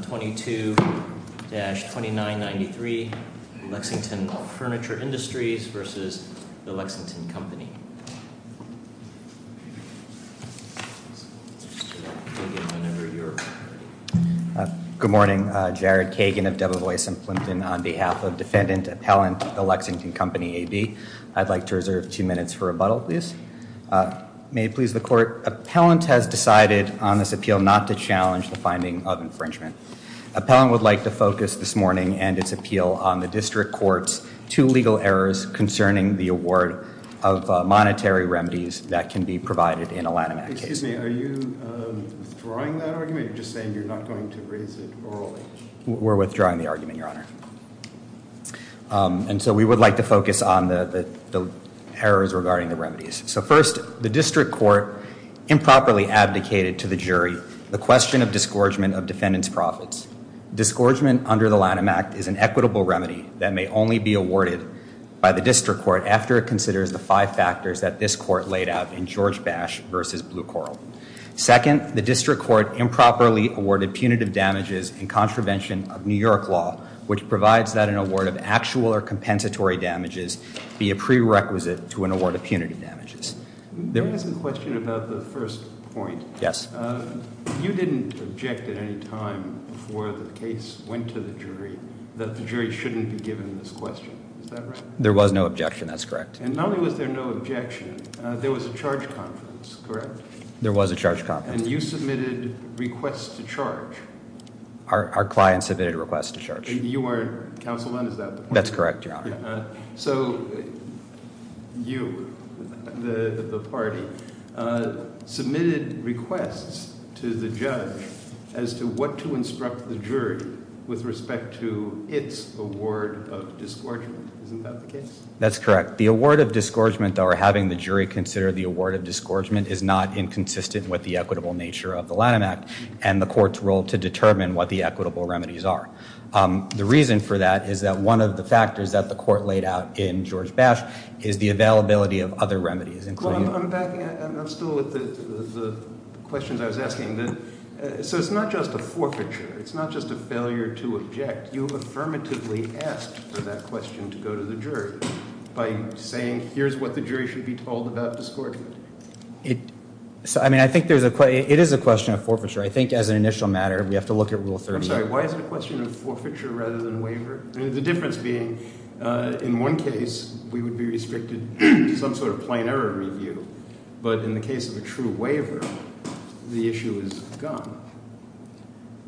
22-2993, Lexington Furniture Industries v. The Lexington Company. Good morning. Jared Kagan of Debevoise & Flinton on behalf of Defendant Appellant, The Lexington Company, AB. I'd like to reserve a few minutes for rebuttal, please. May it please the Court. Appellant has decided on this appeal not to challenge the finding of infringement. Appellant would like to focus this morning and its appeal on the District Court's two legal errors concerning the award of monetary remedies that can be provided in a line-of-mandate case. Excuse me, are you withdrawing that argument? You're just saying you're not going to raise it at all? We're withdrawing the argument, Your Honor. And so we would like to focus on the errors regarding the remedies. So first, the District Court improperly advocated to the jury the question of disgorgement of defendant's profits. Disgorgement under the Lanham Act is an equitable remedy that may only be awarded by the District Court after it considers the five factors that this Court laid out in George Bash v. Blue Coral. Second, the District Court improperly awarded punitive damages in contravention of New York law, which provides that an award of actual or compensatory damages be a prerequisite to an award of punitive damages. May I ask a question about the first point? Yes. You didn't object at any time before the case went to the jury that the jury shouldn't be given this question, is that right? There was no objection, that's correct. And not only was there no objection, there was a charge conference, correct? There was a charge conference. Our client submitted a request to charge. You are counsel under that? That's correct, yeah. So you, the party, submitted requests to the judge as to what to instruct the jury with respect to its award of disgorgement. Is that the case? That's correct. The award of disgorgement, or having the jury consider the award of disgorgement, is not inconsistent with the equitable nature of the Lanham Act and the court's role to determine what the equitable remedies are. The reason for that is that one of the factors that the court laid out in George Bash is the availability of other remedies. I'm still with the questions I was asking. So it's not just a forfeiture. It's not just a failure to object. You affirmatively asked for that question to go to the jury by saying, here's what the jury should be told about disgorgement. I mean, I think there's a, it is a question of forfeiture. I think as an initial matter, we have to look at Rule 38. I'm sorry, why is the question of forfeiture rather than waiver? The difference being, in one case, we would be restricted to some sort of plenary review, but in the case of a true waiver, the issue is gone.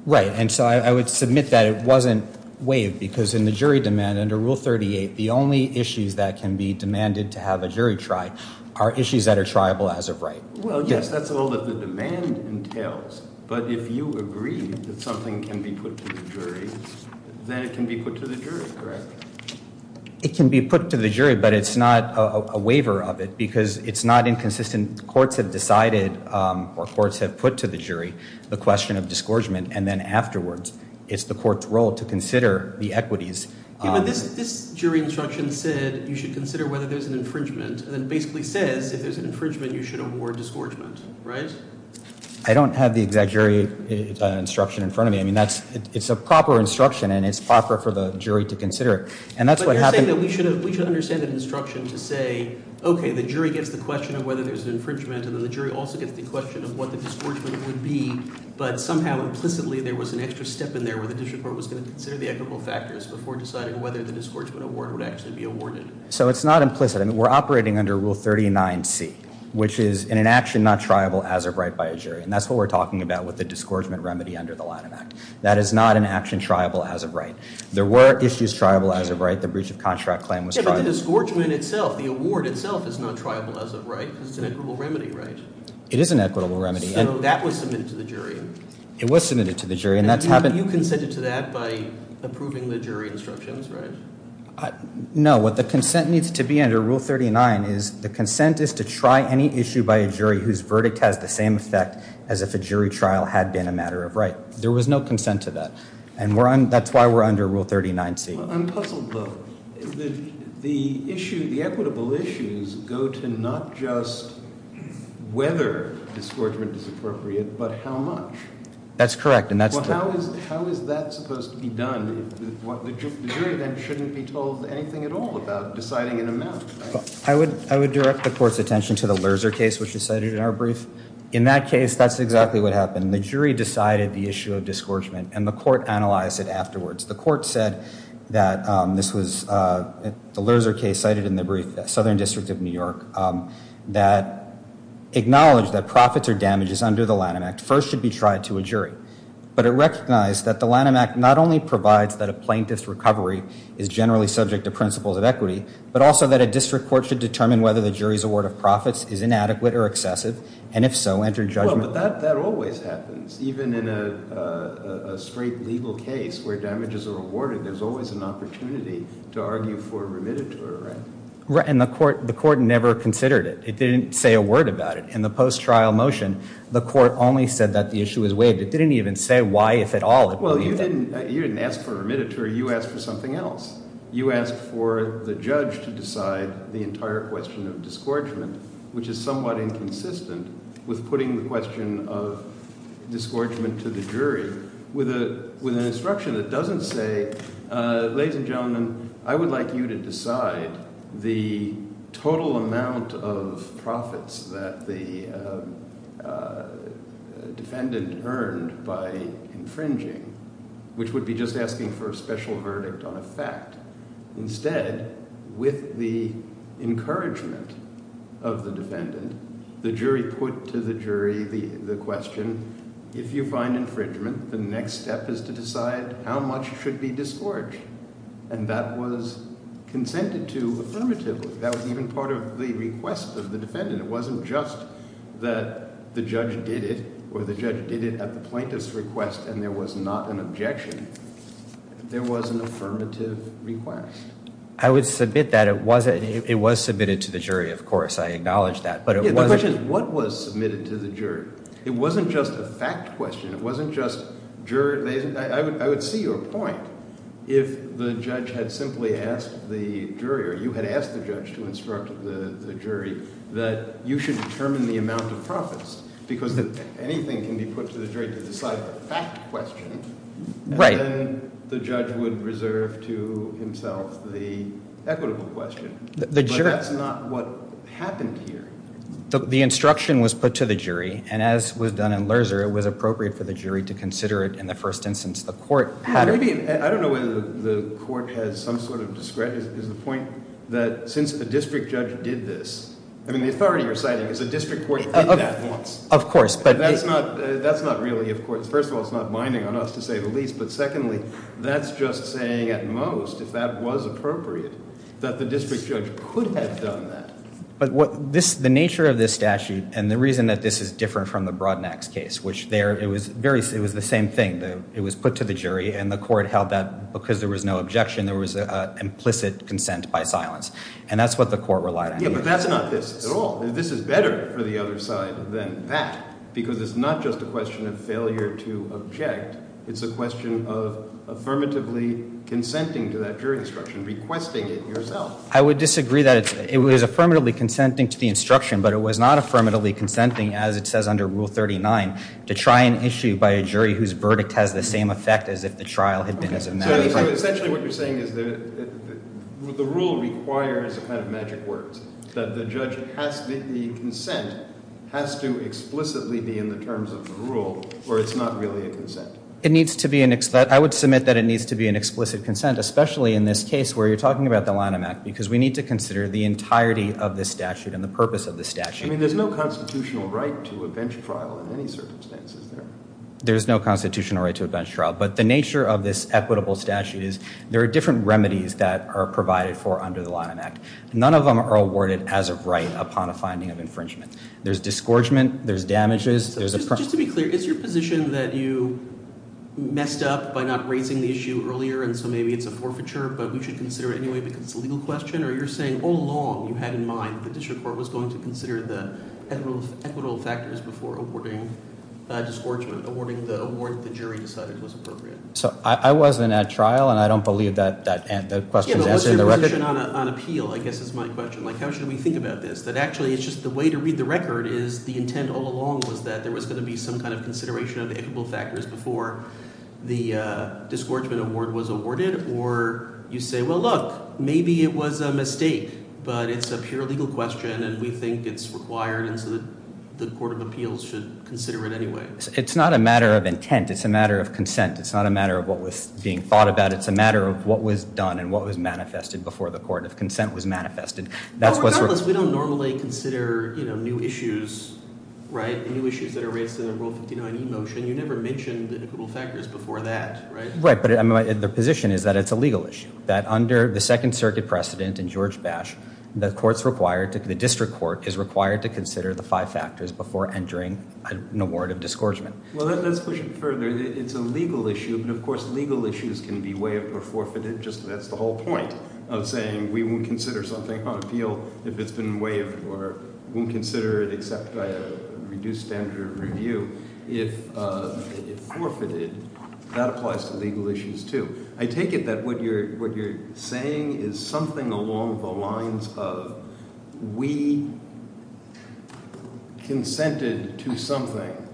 Right, and so I would submit that it wasn't waived because in the jury demand under Rule 38, the only issues that can be demanded to have a jury try are issues that are triable as of right. Well, yes, that's all that the demand entails. But if you agree that something can be put to the jury, then it can be put to the jury, correct? It can be put to the jury, but it's not a waiver of it because it's not inconsistent. Courts have decided or courts have put to the jury the question of disgorgement, and then afterwards it's the court's role to consider the equities. This jury instruction said you should consider whether there's an infringement, and it basically said if there's an infringement, you should award disgorgement, right? I don't have the exact jury instruction in front of me. I mean, it's a proper instruction, and it's proper for the jury to consider. But you're saying that we should understand that instruction to say, okay, the jury gets the question of whether there's an infringement, and then the jury also gets the question of what the disgorgement would be, but somehow implicitly there was an extra step in there where the district court was going to consider the equitable factors before deciding whether the disgorgement award would actually be awarded. So it's not implicit. I mean, we're operating under Rule 39C, which is an inaction not triable as of right by a jury, and that's what we're talking about with the disgorgement remedy under the Latin Act. That is not an action triable as of right. There were issues triable as of right. The breach of contract claim was triable. Yeah, but the disgorgement itself, the award itself, is not triable as of right. It's an equitable remedy, right? It is an equitable remedy. So that was submitted to the jury. It was submitted to the jury. And you consented to that by approving the jury instructions, right? No. What the consent needs to be under Rule 39 is the consent is to try any issue by a jury whose verdict has the same effect as if a jury trial had been a matter of right. There was no consent to that. And that's why we're under Rule 39C. I'm puzzled, though. The equitable issues go to not just whether disgorgement is appropriate, but how much. That's correct. Well, how is that supposed to be done? The jury then shouldn't be told anything at all about deciding an amount, right? I would direct the court's attention to the Lerzer case, which is cited in our brief. In that case, that's exactly what happened. The jury decided the issue of disgorgement, and the court analyzed it afterwards. The court said that this was the Lerzer case cited in the brief, Southern District of New York, that acknowledged that profits or damages under the Latin Act first should be tried to a jury. But it recognized that the Latin Act not only provides that a plaintiff's recovery is generally subject to principles of equity, but also that a district court should determine whether the jury's award of profits is inadequate or excessive, and if so, enter judgment. Well, but that always happens. Even in a straight legal case where damages are awarded, there's always an opportunity to argue for a remitted term. Right, and the court never considered it. It didn't say a word about it. In the post-trial motion, the court only said that the issue was waived. It didn't even say why, if at all. Well, you didn't ask for a remitted term. You asked for something else. You asked for the judge to decide the entire question of disgorgement, which is somewhat inconsistent with putting the question of disgorgement to the jury with an instruction that doesn't say, Ladies and gentlemen, I would like you to decide the total amount of profits that the defendant earned by infringing, which would be just asking for a special verdict on a fact. Instead, with the encouragement of the defendant, the jury put to the jury the question, If you find infringement, the next step is to decide how much should be disgorged. And that was consented to affirmatively. That was even part of the request of the defendant. It wasn't just that the judge did it, or the judge did it at the plaintiff's request and there was not an objection. There was an affirmative request. I would submit that it was submitted to the jury, of course. I acknowledge that. Yeah, but what was submitted to the jury? It wasn't just a fact question. It wasn't just jury. I would see your point if the judge had simply asked the jury, or you had asked the judge to instruct the jury, that you should determine the amount of profits because anything can be put to the jury to decide a fact question. Right. And then the judge would reserve to himself the equitable question. But that's not what happened here. The instruction was put to the jury, and as was done in Lerzer, it was appropriate for the jury to consider it in the first instance. I don't know whether the court had some sort of discretion. The point is that since the district judge did this, I mean, the authorities are saying that the district court did that once. Of course. That's not really important. First of all, it's not binding on us to say the least. But secondly, that's just saying at most, if that was appropriate, that the district judge could have done that. The nature of this statute, and the reason that this is different from the Broadmax case, it was the same thing. It was put to the jury, and the court held that because there was no objection, there was an implicit consent by silence. And that's what the court relied on. Yeah, but that's not this at all. This is better for the other side than that, because it's not just a question of failure to object. It's a question of affirmatively consenting to that jury instruction, requesting it yourself. I would disagree that it was affirmatively consenting to the instruction, but it was not affirmatively consenting, as it says under Rule 39, to try an issue by a jury whose verdict has the same effect as if the trial had been as a matter of fact. Essentially what you're saying is that the rule requires kind of magic words. The judge has to make the consent, has to explicitly be in the terms of the rule, or it's not really a consent. I would submit that it needs to be an explicit consent, especially in this case where you're talking about the Lanham Act, because we need to consider the entirety of this statute and the purpose of this statute. I mean, there's no constitutional right to a bench trial in any circumstance, is there? There's no constitutional right to a bench trial, but the nature of this equitable statute is there are different remedies that are provided for under the Lanham Act. None of them are awarded as of right upon a finding of infringement. There's disgorgement. There's damages. Just to be clear, is your position that you messed up by not raising the issue earlier, and so maybe it's a forfeiture, but we should consider it anyway because it's a legal question, or you're saying all along you had in mind that this report was going to consider the most equitable factors before awarding disgorgement, awarding the award that the jury decided was appropriate? So I wasn't at trial, and I don't believe that question is in the record. Yeah, but wasn't it written on appeal, I guess is my question. Like, how should we think about this? But actually it's just the way to read the record is the intent all along was that there was going to be some kind of consideration of equitable factors before the disgorgement award was awarded, or you say, well, look, maybe it was a mistake, but it's a pure legal question, and we think it's required that the Court of Appeals should consider it anyway. It's not a matter of intent. It's a matter of consent. It's not a matter of what was being thought about. It's a matter of what was done and what was manifested before the Court of Consent was manifested. Regardless, we don't normally consider new issues, right, in an e-motion. You never mentioned the equitable factors before that, right? Right, but the position is that it's a legal issue, that under the Second Circuit precedent in George Bash, the District Court is required to consider the five factors before entering an award of disgorgement. Well, let's push it further. It's a legal issue, but of course legal issues can be waived or forfeited. That's the whole point of saying we won't consider something on appeal if it's been waived or we won't consider it except by a reduced standard of review. If it's forfeited, that applies to legal issues too. I take it that what you're saying is something along the lines of we consented to something,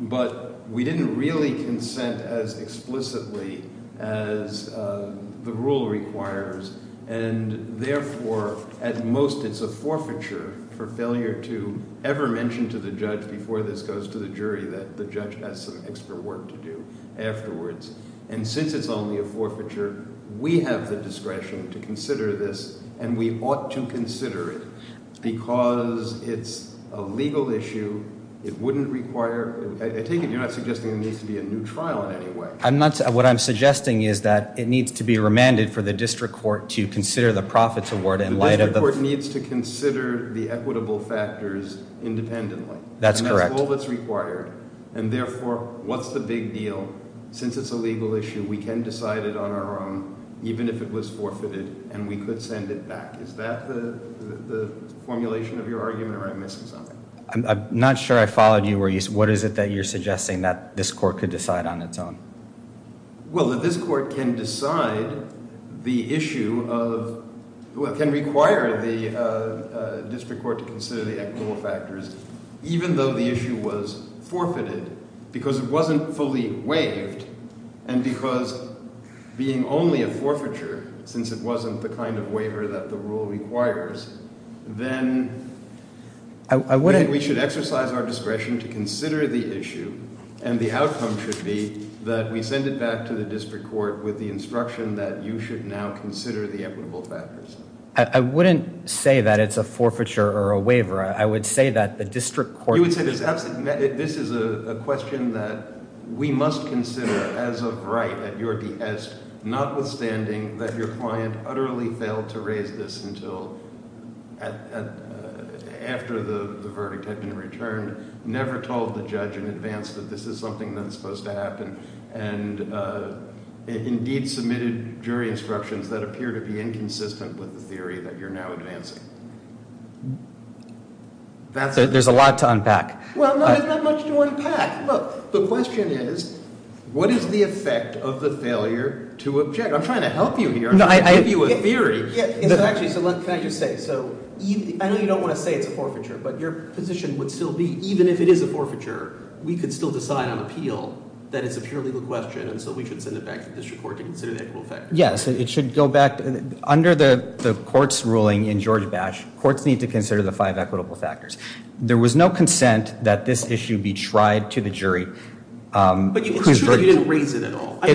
but we didn't really consent as explicitly as the rule requires, and therefore at most it's a forfeiture for failure to ever mention to the judge before this goes to the jury that the judge has some extra work to do afterwards. And since it's only a forfeiture, we have the discretion to consider this and we ought to consider it because it's a legal issue. It wouldn't require, I take it you're not suggesting there needs to be a new trial in any way. What I'm suggesting is that it needs to be remanded for the district court to consider the profits award and later... The district court needs to consider the equitable factors independently. That's correct. That's all that's required. And therefore, what's the big deal? Since it's a legal issue, we can decide it on our own even if it was forfeited and we could send it back. Is that the formulation of your argument or am I missing something? I'm not sure I followed you. What is it that you're suggesting that this court could decide on its own? Well, that this court can decide the issue of... Well, it can require the district court to consider the equitable factors even though the issue was forfeited because it wasn't fully waived and because being only a forfeiture, since it wasn't the kind of waiver that the rule requires, then we should exercise our discretion to consider the issue and the outcome should be that we send it back to the district court with the instruction that you should now consider the equitable factors. I wouldn't say that it's a forfeiture or a waiver. I would say that the district court... This is a question that we must consider as of right at your behest notwithstanding that your client utterly failed to raise this until after the verdict had been returned, never told the judge in advance that this is something that's supposed to happen, and indeed submitted jury instructions that appear to be inconsistent with the theory that you're now advancing. There's a lot to unpack. Well, there's not much to unpack. Look, the question is, what is the effect of the failure to object? I'm trying to help you here. I'm trying to give you a theory. Can I just say, I know you don't want to say it's a forfeiture, but your position would still be, even if it is a forfeiture, we could still decide on appeal that is a purely legal question and so we could send it back to the district court to consider the equitable factors. Yes, it should go back. Under the court's ruling in George Batch, courts need to consider the five equitable factors. There was no consent that this issue be tried to the jury. But you didn't raise it at all. That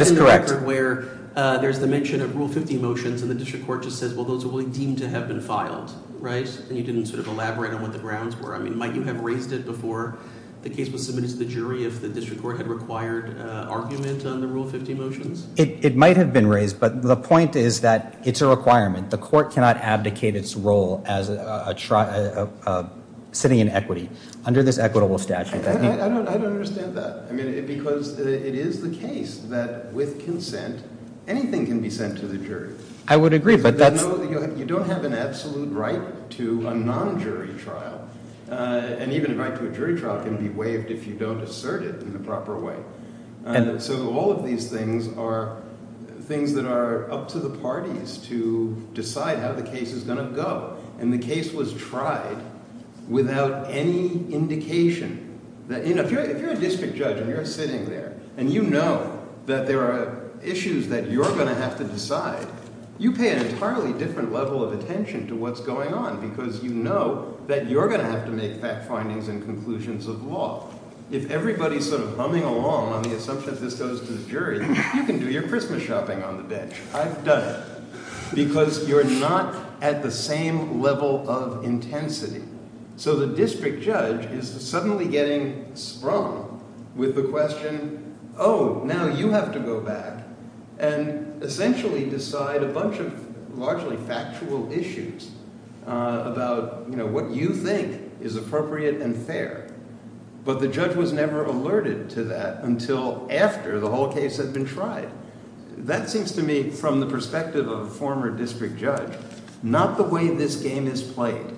is correct. There is a court in the record where there's the mention of Rule 50 motions and the district court just says, well, those are deemed to have been filed, right? And you didn't sort of elaborate on what the grounds were. I mean, might you have raised it before the case was submitted to the jury if the district court had required argument on the Rule 50 motions? It might have been raised, but the point is that it's a requirement. The court cannot abdicate its role as sitting in equity under this equitable statute. I don't understand that, because it is the case that with consent, anything can be sent to the jury. I would agree, but that's… Well, you don't have an absolute right to a non-jury trial. And even a right to a jury trial can be waived if you don't assert it in the proper way. So all of these things are things that are up to the parties to decide how the case is going to go. And the case was tried without any indication. If you're a district judge and you're sitting there and you know that there are issues that you're going to have to decide, you pay an entirely different level of attention to what's going on, because you know that you're going to have to make fact findings and conclusions of law. If everybody's sort of humming along on the assumption that this goes to the jury, you can do your Christmas shopping on the bench. I've done it. Because you're not at the same level of intensity. So the district judge is suddenly getting sprung with the question, oh, now you have to go back and essentially decide a bunch of largely factual issues about what you think is appropriate and fair. But the judge was never alerted to that until after the whole case had been tried. That seems to me, from the perspective of a former district judge, not the way this game is played.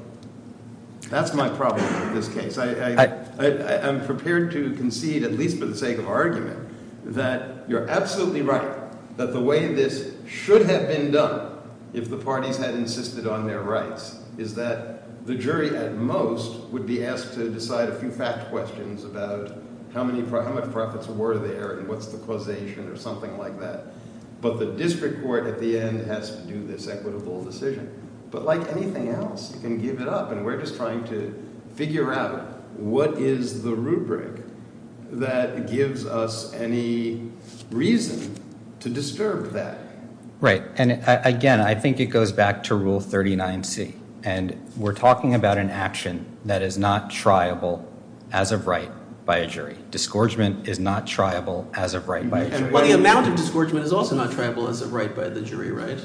That's my problem with this case. I'm prepared to concede, at least for the sake of argument, that you're absolutely right that the way this should have ended up, if the parties had insisted on their rights, is that the jury at most would be asked to decide a few fast questions about how many profits were there and what's the causation or something like that. But the district court at the end has to do this equitable decision. But like anything else, you can give it up, and we're just trying to figure out what is the rubric that gives us any reason to disturb that. Right, and again, I think it goes back to Rule 39C, and we're talking about an action that is not triable as of right by a jury. Discouragement is not triable as of right by a jury. Well, the amount of discouragement is also not triable as of right by the jury, right?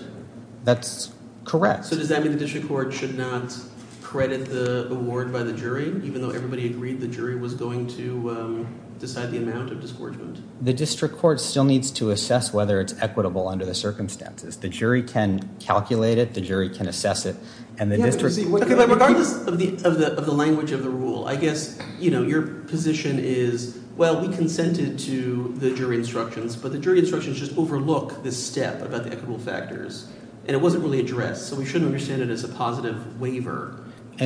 That's correct. So does that mean the district court should not credit the award by the jury, even though everybody agreed the jury was going to decide the amount of discouragement? The district court still needs to assess whether it's equitable under the circumstances. The jury can calculate it. The jury can assess it. Okay, but regardless of the language of the rule, I guess your position is, well, we consented to the jury instructions, but the jury instructions just overlook this step about the equitable factors, and it wasn't really addressed, so we shouldn't really say that it's a positive waiver. So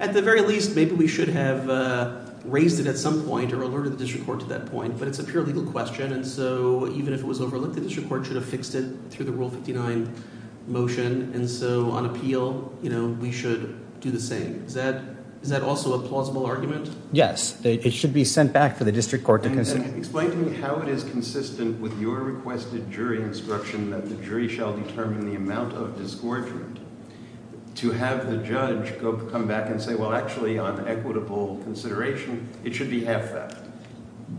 at the very least, maybe we should have raised it at some point or alerted the district court to that point, but it's a pure legal question, and so even if it was overlooked, the district court should have fixed it through the Rule 59 motion, and so on appeal, we should do the same. Is that also a plausible argument? Yes, it should be sent back to the district court. Explain to me how it is consistent with your requested jury instruction that the jury shall determine the amount of discouragement. To have the judge come back and say, well, actually, on equitable consideration, it should be half that.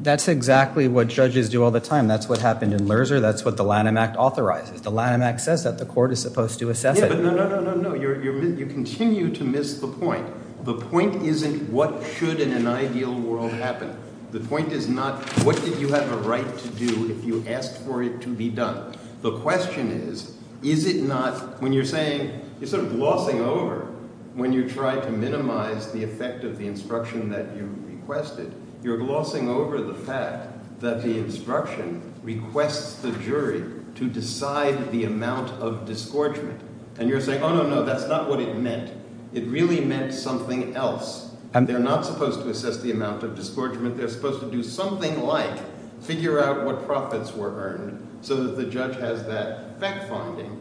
That's exactly what judges do all the time. That's what happened in Mercer. That's what the Lanham Act authorizes. The Lanham Act says that the court is supposed to assess it. No, no, no. You continue to miss the point. The point isn't what should in an ideal world happen. The point is not what did you have a right to do if you asked for it to be done. The question is, is it not, when you're saying, you're sort of glossing over, when you're trying to minimize the effect of the instruction that you requested, you're glossing over the fact that the instruction requests the jury to decide the amount of discouragement, and you're saying, oh, no, no, that's not what it meant. It really meant something else. They're not supposed to assess the amount of discouragement. They're supposed to do something like figure out what profits were earned so that the judge has that fact-bonding to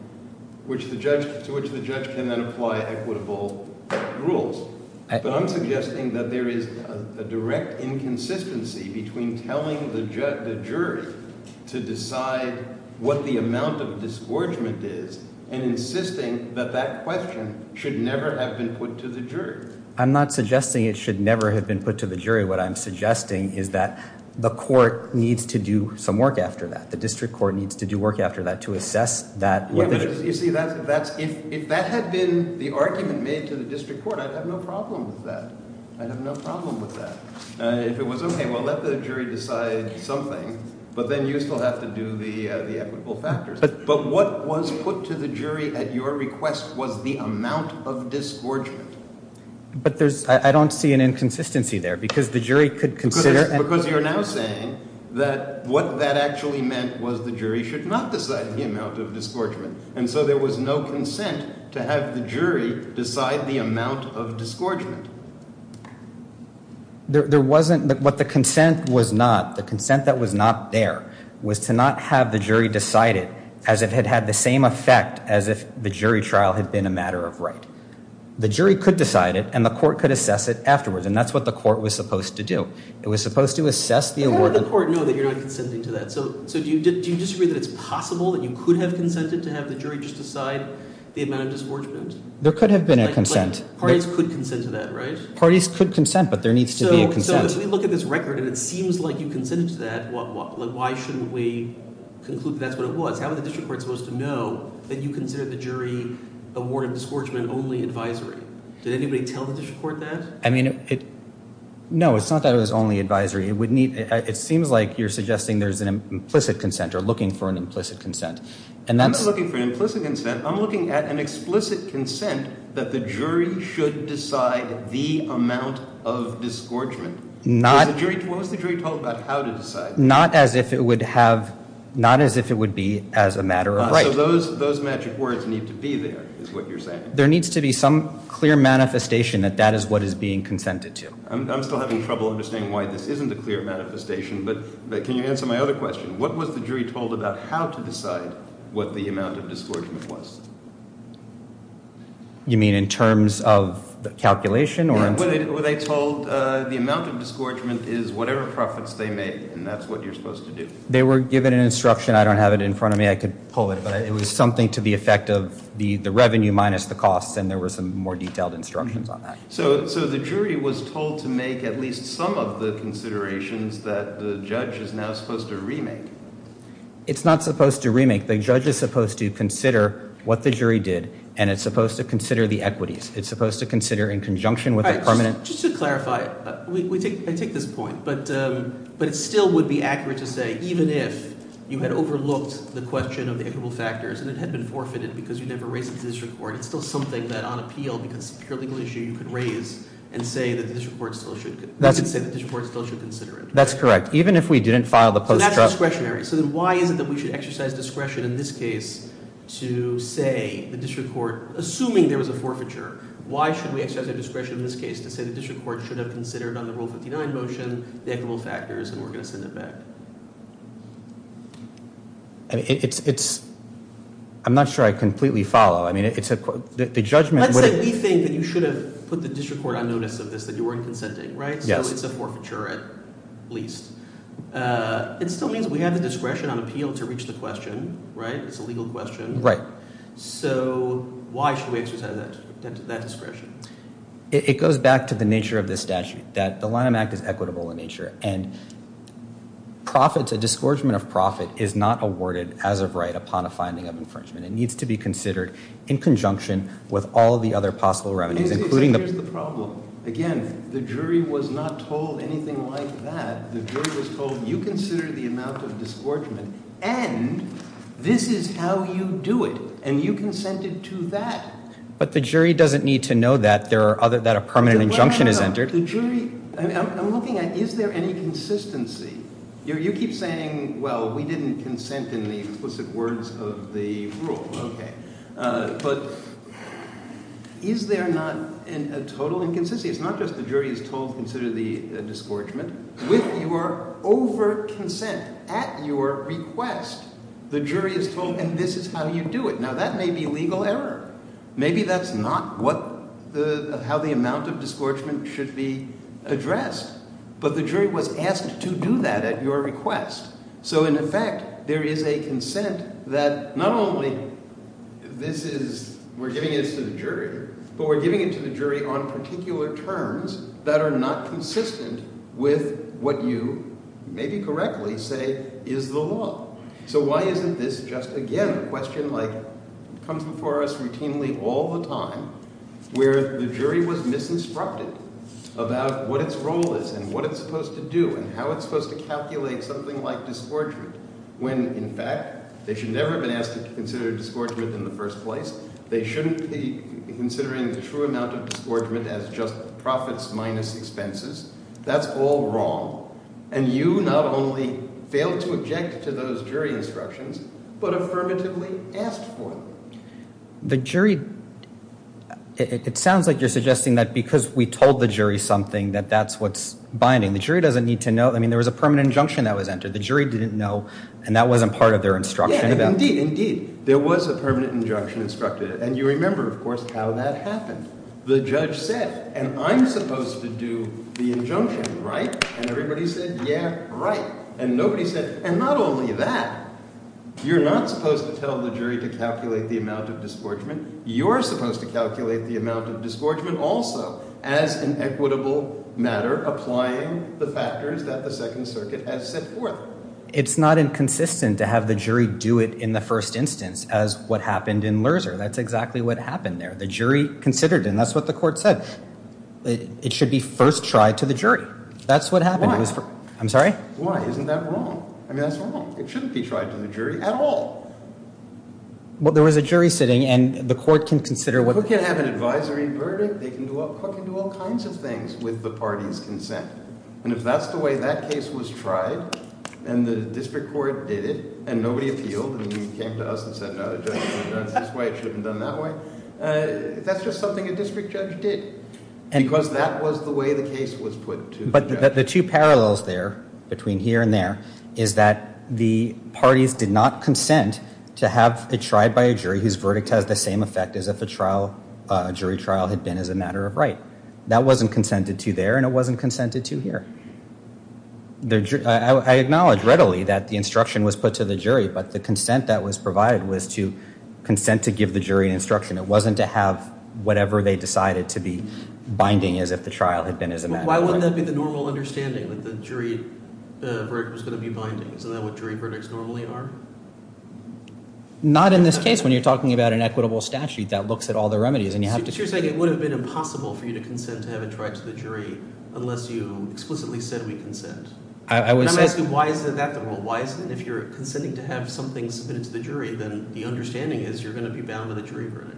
which the judge can apply equitable rules. But I'm suggesting that there is a direct inconsistency between telling the jury to decide what the amount of discouragement is and insisting that that question should never have been put to the jury. I'm not suggesting it should never have been put to the jury. What I'm suggesting is that the court needs to do some work after that. The district court needs to do work after that to assess that. You see, if that had been the argument made to the district court, I'd have no problem with that. I'd have no problem with that. If it was okay, well, let the jury decide something, but then you still have to do the equitable factors. But what was put to the jury at your request was the amount of discouragement. But I don't see an inconsistency there, because the jury could consider... Because you're now saying that what that actually meant was the jury should not decide the amount of discouragement, and so there was no consent to have the jury decide the amount of discouragement. There wasn't, but what the consent was not, the consent that was not there, was to not have the jury decide it as if it had the same effect as if the jury trial had been a matter of right. The jury could decide it, and the court could assess it afterwards, and that's what the court was supposed to do. It was supposed to assess the award... How would the court know that you're not consenting to that? So do you disagree that it's possible that you could have consented to have the jury decide the amount of discouragement? There could have been a consent. Parties could consent to that, right? Parties could consent, but there needs to be a consent. So if we look at this record and it seems like you consented to that, why shouldn't we conclude that's what it was? How is the district court supposed to know that you consider the jury award of discouragement only advisory? Did anybody tell the district court that? No, it's not that it was only advisory. It seems like you're suggesting there's an implicit consent or looking for an implicit consent. I'm not looking for an implicit consent. I'm looking at an explicit consent that the jury should decide the amount of discouragement. What was the jury told about how to decide? Not as if it would be as a matter of right. So those magic words need to be there is what you're saying. There needs to be some clear manifestation that that is what is being consented to. I'm still having trouble understanding why this isn't a clear manifestation, but can you answer my other question? What was the jury told about how to decide what the amount of discouragement was? You mean in terms of calculation? Were they told the amount of discouragement is whatever preference they make, and that's what you're supposed to do? They were given an instruction. I don't have it in front of me. I could pull it, but it was something to the effect of the revenue minus the cost, and there were some more detailed instructions on that. So the jury was told to make at least some of the considerations that the judge is now supposed to remake. It's not supposed to remake. The judge is supposed to consider what the jury did, and it's supposed to consider the equities. It's supposed to consider in conjunction with the permanent. Just to clarify, I take this point, but it still would be accurate to say even if you had overlooked the question of equal factors and it had been forfeited because you never raised it in this report, it's still something that on appeal, because it's a purely legal issue, you could raise and say that the district court still should consider it. That's correct. Even if we didn't file the post-trial. So that's discretionary. So then why is it that we should exercise discretion in this case to say the district court, assuming there was a forfeiture, why should we exercise discretion in this case to say the district court should have considered on the Rule 59 motion that equal factors were just in effect? I'm not sure I completely follow. Let's say we think that you should have put the district court on notice of this but you weren't consenting, right? So it's a forfeiture at least. It still means we have the discretion on appeal to reach the question, right? It's a legal question. Right. So why should we exercise that discretion? It goes back to the nature of this statute, that the Line Act is equitable in nature, and a disgorgement of profit is not awarded as of right upon a finding of infringement. It needs to be considered in conjunction with all the other possible remedies. Here's the problem. Again, the jury was not told anything like that. The jury was told you consider the amount of disgorgement and this is how you do it and you consented to that. But the jury doesn't need to know that a permanent injunction is entered. I'm looking at is there any consistency. You keep saying, well, we didn't consent in the explicit words of the rule. Okay. But is there not a total inconsistency? It's not just the jury is told consider the disgorgement. With your over-consent at your request, the jury is told and this is how you do it. Now that may be a legal error. Maybe that's not how the amount of disgorgement should be addressed. But the jury was asked to do that at your request. So in effect, there is a consent that not only this is we're giving this to the jury, but we're giving it to the jury on particular terms that are not consistent with what you maybe correctly say is the law. So why isn't this just again a question like comes before us routinely all the time where the jury was misinstructed about what its role is and what it's supposed to do and how it's supposed to calculate something like disgorgement when, in fact, they should never have been asked to consider disgorgement in the first place. They shouldn't be considering the true amount of disgorgement as just profits minus expenses. That's all wrong. And you not only failed to object to those jury instructions, but affirmatively asked for them. The jury, it sounds like you're suggesting that because we told the jury something that that's what's binding. The jury doesn't need to know. I mean, there was a permanent injunction that was entered. The jury didn't know, and that wasn't part of their instruction. Indeed, indeed. There was a permanent injunction instructed. And you remember, of course, how that happened. The judge said, and I'm supposed to do the injunction, right? And everybody said, yeah, right. And nobody said, and not only that, you're not supposed to tell the jury to calculate the amount of disgorgement. You're supposed to calculate the amount of disgorgement also as an equitable matter applying the factors that the Second Circuit has set forth. It's not inconsistent to have the jury do it in the first instance as what happened in Lerzer. That's exactly what happened there. The jury considered it, and that's what the court said. It should be first tried to the jury. That's what happened. Why? I'm sorry? Why? Isn't that wrong? I mean, that's wrong. It shouldn't be tried to the jury at all. Well, there was a jury sitting, and the court can consider what... If they have an advisory verdict, they can do all kinds of things with the party's consent. And if that's the way that case was tried, and the district court did it, and nobody appealed, and he came to us and said, no, it shouldn't be done this way, it shouldn't be done that way, that's just something a district judge did, because that was the way the case was put to the judge. But the two parallels there, between here and there, is that the parties did not consent to have it tried by a jury whose verdict has the same effect as if a jury trial had been as a matter of right. That wasn't consented to there, and it wasn't consented to here. I acknowledge readily that the instruction was put to the jury, but the consent that was provided was to consent to give the jury instruction. It wasn't to have whatever they decided to be binding as if the trial had been as a matter of right. Why wouldn't that be the normal understanding, that the jury's verdict was going to be binding, so that's what jury verdicts normally are? Not in this case, when you're talking about an equitable statute that looks at all the remedies, and you have to... So you're saying it would have been impossible for you to consent to have it tried to the jury, unless you explicitly said we consent. Can I ask you, why is that the rule? If you're consenting to have something submitted to the jury, then the understanding is you're going to be bound to the jury verdict.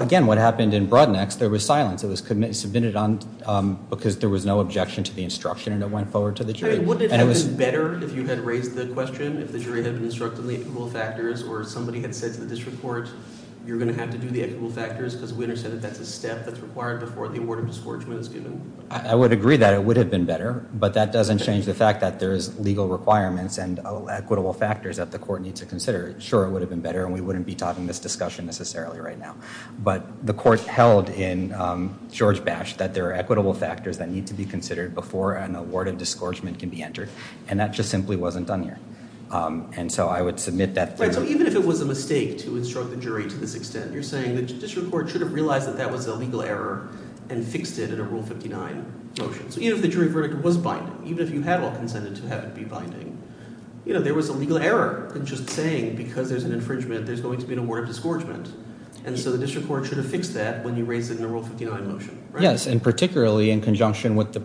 Again, what happened in Broadnext, there was silence. It was submitted because there was no objection to the instruction, and it went forward to the jury. Would it have been better if you had raised the question, if the jury had instructed the equal factors, or if somebody had said in this report, you're going to have to do the equal factors, because the witness said that's a step that's required before the award of discouragement is given. I would agree that it would have been better, but that doesn't change the fact that there is legal requirements and equitable factors that the court needs to consider. Sure, it would have been better, and we wouldn't be talking this discussion necessarily right now. But the court held in George Bash that there are equitable factors that need to be considered before an award of discouragement can be entered, and that just simply wasn't done here. And so I would submit that. Even if it was a mistake to instruct the jury to this extent, you're saying the judiciary court should have realized that that was a legal error and fixed it in a Rule 59 motion. Even if the jury verdict was binding, even if you had all consented to have it be binding, there was a legal error in just saying because there's an infringement, there's going to be an award of discouragement. And so the district court should have fixed that when they raised it in the Rule 59 motion. Yes, and particularly in conjunction with the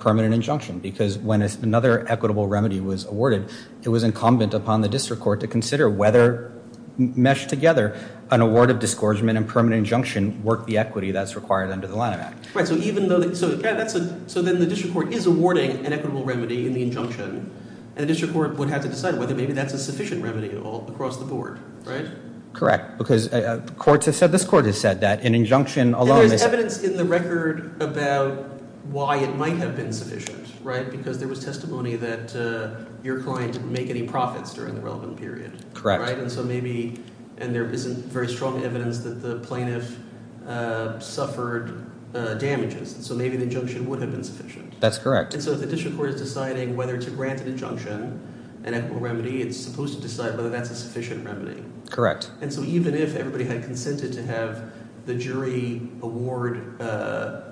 permanent injunction, because when another equitable remedy was awarded, it was incumbent upon the district court to consider whether, meshed together, an award of discouragement and permanent injunction work the equity that's required under the Line Act. Right, so even though the district court is awarding an equitable remedy in the injunction, the district court would have to decide whether maybe that's a sufficient remedy across the board, right? Correct, because courts have said, this court has said that an injunction alone... And there's evidence in the record about why it might have been sufficient, right? Because there was testimony that your client didn't make any profits during the relevant period. Correct. And so maybe, and there isn't very strong evidence that the plaintiff suffered damages, so maybe the injunction would have been sufficient. That's correct. And so if the district court is deciding whether it's a granted injunction, an equitable remedy, it's supposed to decide whether that's a sufficient remedy. Correct. And so even if everybody had consented to have the jury award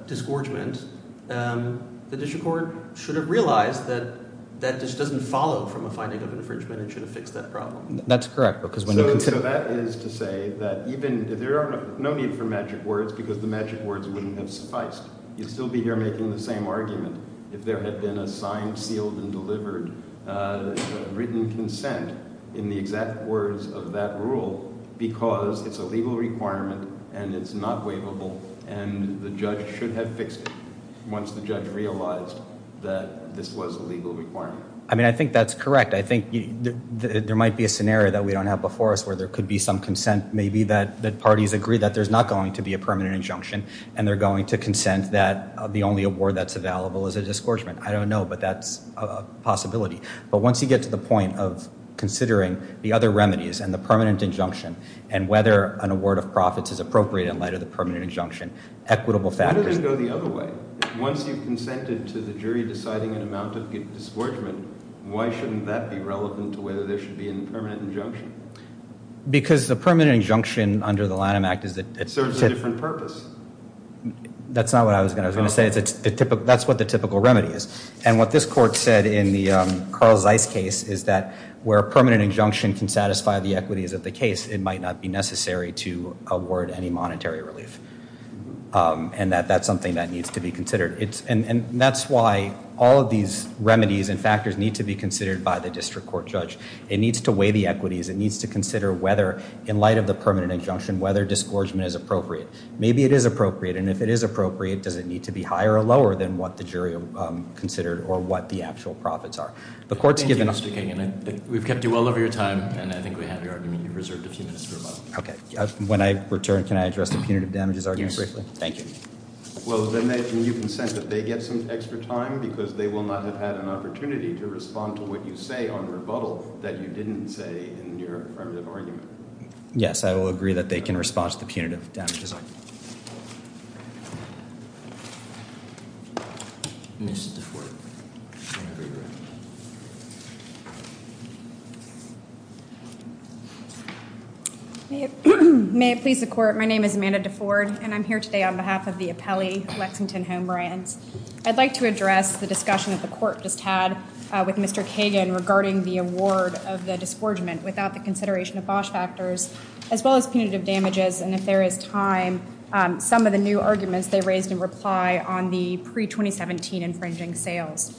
discouragement, the district court should have realized that that just doesn't follow from a finding of infringement and should fix that problem. That's correct, because when they... So that is to say that even if there are no need for magic words because the magic words wouldn't have sufficed, you'd still be here making the same argument if there had been a signed, sealed, and delivered written consent in the exact words of that rule because it's a legal requirement and it's not waivable and the judge should have fixed it once the judge realized that this was a legal requirement. I mean, I think that's correct. I think there might be a scenario that we don't have before us where there could be some consent, maybe that parties agree that there's not going to be a permanent injunction and they're going to consent that the only award that's available is a discouragement. I don't know, but that's a possibility. But once you get to the point of considering the other remedies and the permanent injunction and whether an award of profits is appropriate in light of the permanent injunction, equitable factors... Why don't you go the other way? If once you consented to the jury deciding on the amount of the discouragement, why shouldn't that be relevant to whether there should be a permanent injunction? Because the permanent injunction under the Lanham Act is that... It serves a different purpose. That's not what I was going to say. That's what the typical remedy is. And what this court said in the Carl Zeiss case is that where a permanent injunction can satisfy the equities of the case, it might not be necessary to award any monetary relief. And that's something that needs to be considered. And that's why all of these remedies and factors need to be considered by the district court judge. It needs to weigh the equities. It needs to consider whether, in light of the permanent injunction, whether discouragement is appropriate. Maybe it is appropriate. And if it is appropriate, does it need to be higher or lower than what the jury considered or what the actual profits are? The court's given us... Thank you for speaking. We've kept you well over your time. And I think we have your argument reserved for two minutes to resolve. Okay. When I return, can I address the punitive damages argument? Yes, sir. Thank you. Well, then you consent that they get some extra time because they will not have had an opportunity to respond to what you say on rebuttal that you didn't say in your argument. Yes, I will agree that they can respond to the punitive damages argument. May it please the court. My name is Amanda DeFord, and I'm here today on behalf of the appellee, Lexington Home Ryan. I'd like to address the discussion that the court just had with Mr. Kagan regarding the award of the discouragement without the consideration of cost factors as well as punitive damages. And if there is time, some of the new arguments they raised in reply on the pre-2017 infringing sales.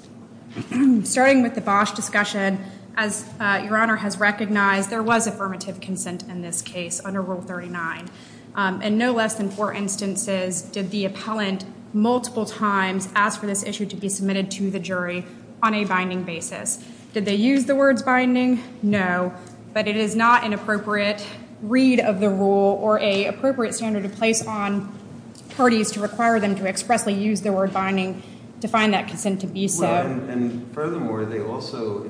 Starting with the Bosch discussion, as Your Honor has recognized, there was affirmative consent in this case under Rule 39. And no less than four instances did the appellant multiple times ask for this issue to be submitted to the jury on a binding basis. Did they use the word binding? No. But it is not an appropriate read of the rule or an appropriate standard of place on parties to require them to expressly use the word binding to find that consent to be so. Well, and furthermore, they also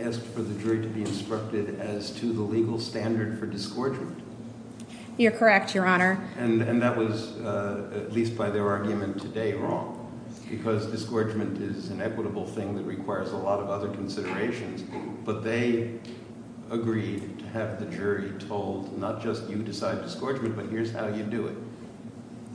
asked for the jury to be instructed as to the legal standard for discouragement. You're correct, Your Honor. And that was, at least by their argument today, wrong. Because discouragement is an equitable thing that requires a lot of other considerations. But they agreed to have the jury told not just you decide discouragement, but here's how you do it.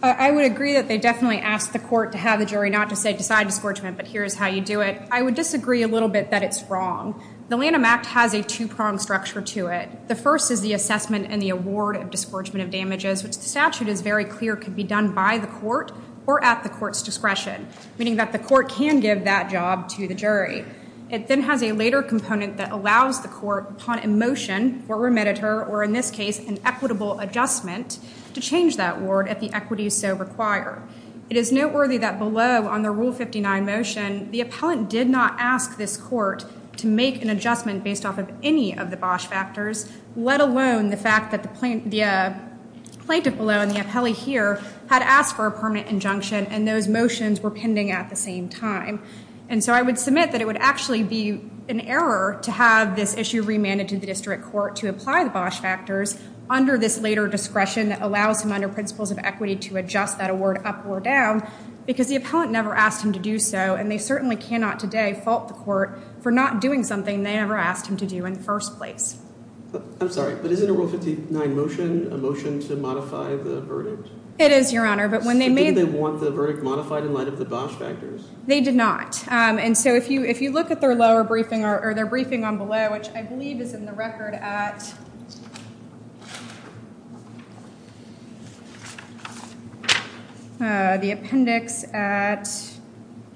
I would agree that they definitely asked the court to have the jury not to say decide discouragement, but here's how you do it. I would disagree a little bit that it's wrong. The Lanham Act has a two-pronged structure to it. The first is the assessment and the award of discouragement of damages. The statute is very clear it could be done by the court or at the court's discretion, meaning that the court can give that job to the jury. It then has a later component that allows the court upon a motion or remediator, or in this case, an equitable adjustment, to change that award at the equities they require. It is noteworthy that below on the Rule 59 motion, the appellant did not ask this court to make an adjustment based off of any of the Bosh factors, let alone the fact that the plaintiff below, and the appellee here, had asked for a permanent injunction and those motions were pending at the same time. And so I would submit that it would actually be an error to have this issue remanded to the district court to apply the Bosh factors under this later discretion that allows them under principles of equity to adjust that award up or down because the appellant never asked them to do so and they certainly cannot today fault the court for not doing something they never asked them to do in the first place. I'm sorry, but is it in the Rule 59 motion, a motion to modify the verdict? It is, Your Honor, but when they made... They didn't even want the verdict modified in light of the Bosh factors. They did not. And so if you look at their lower briefing or their briefing on below, which I believe is in the record at... The appendix at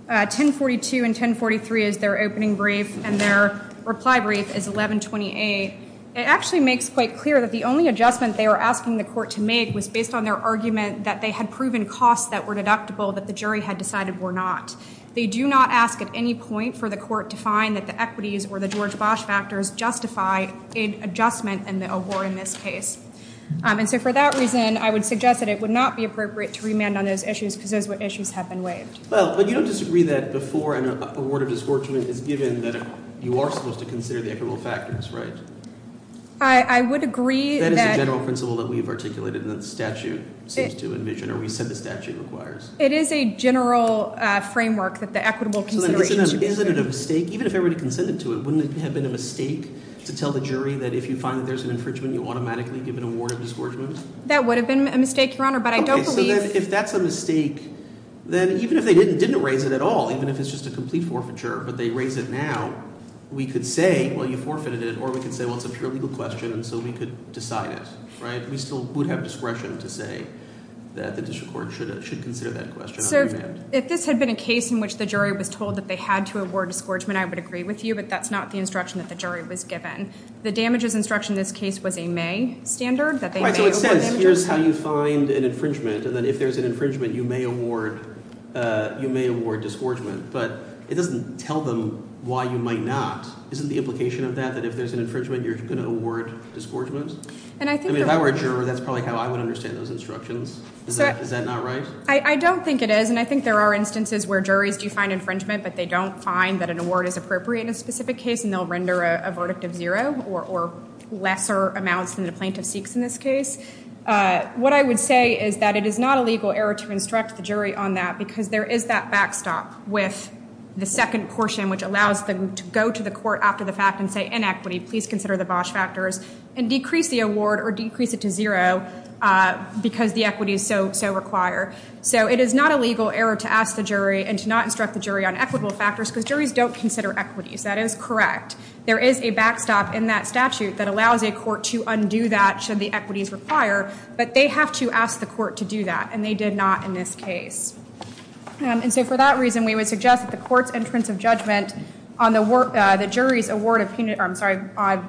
1042 and 1043 is their opening brief and their reply brief is 1128. It actually makes quite clear that the only adjustment they were asking the court to make was based on their argument that they had proven costs that were deductible that the jury had decided were not. They do not ask at any point for the court to find that the equities or the George Bosh factors justify an adjustment in the award in this case. And so for that reason, I would suggest that it would not be appropriate to remand on those issues because those are what issues have been waived. Well, but you don't disagree that before an award of discouragement is given that you are supposed to consider the equitable factors, right? I would agree that... That is a general principle that we have articulated and the statute seems to envision or we said the statute requires. It is a general framework that the equitable considerations... Is it a mistake? Even if everyone consented to it, wouldn't it have been a mistake to tell the jury that if you find there's an infringement, you automatically give an award of discouragement? That would have been a mistake, Your Honor, but I don't believe... If that's a mistake, then even if they didn't raise it at all, even if it's just a complete forfeiture, but they raised it now, we could say, well, you forfeited it or we could say, well, it's a pure legal question and so we could decide it, right? We still would have discretion to say that the district court should consider that question. So if this had been a case in which the jury was told that they had to award discouragement, I would agree with you, but that's not the instruction that the jury was given. The damages instruction in this case was a may standard that they gave. Right, so again, here's how you find an infringement and that if there's an infringement, you may award discouragement, but it doesn't tell them why you might not. Isn't the implication of that that if there's an infringement, you're going to award discouragement? I mean, if I were a juror, that's probably how I would understand those instructions. Is that not right? I don't think it is and I think there are instances where juries do find infringement, but they don't find that an award is appropriate in a specific case and they'll render a verdict of zero or lesser amounts than the plaintiff seeks in this case. What I would say is that it is not a legal error to instruct the jury on that because there is that backstop with the second portion which allows them to go to the court after the fact and say, inequity, please consider the Bosh factors and decrease the award or decrease it to zero because the equity is so required. So it is not a legal error to ask the jury and to not instruct the jury on equitable factors because juries don't consider equity. That is correct. There is a backstop in that statute that allows a court to undo that should the equities require, but they have to ask the court to do that and they did not in this case. And so for that reason, we would suggest that the court's intrusive judgment on the jury's award of, I'm sorry,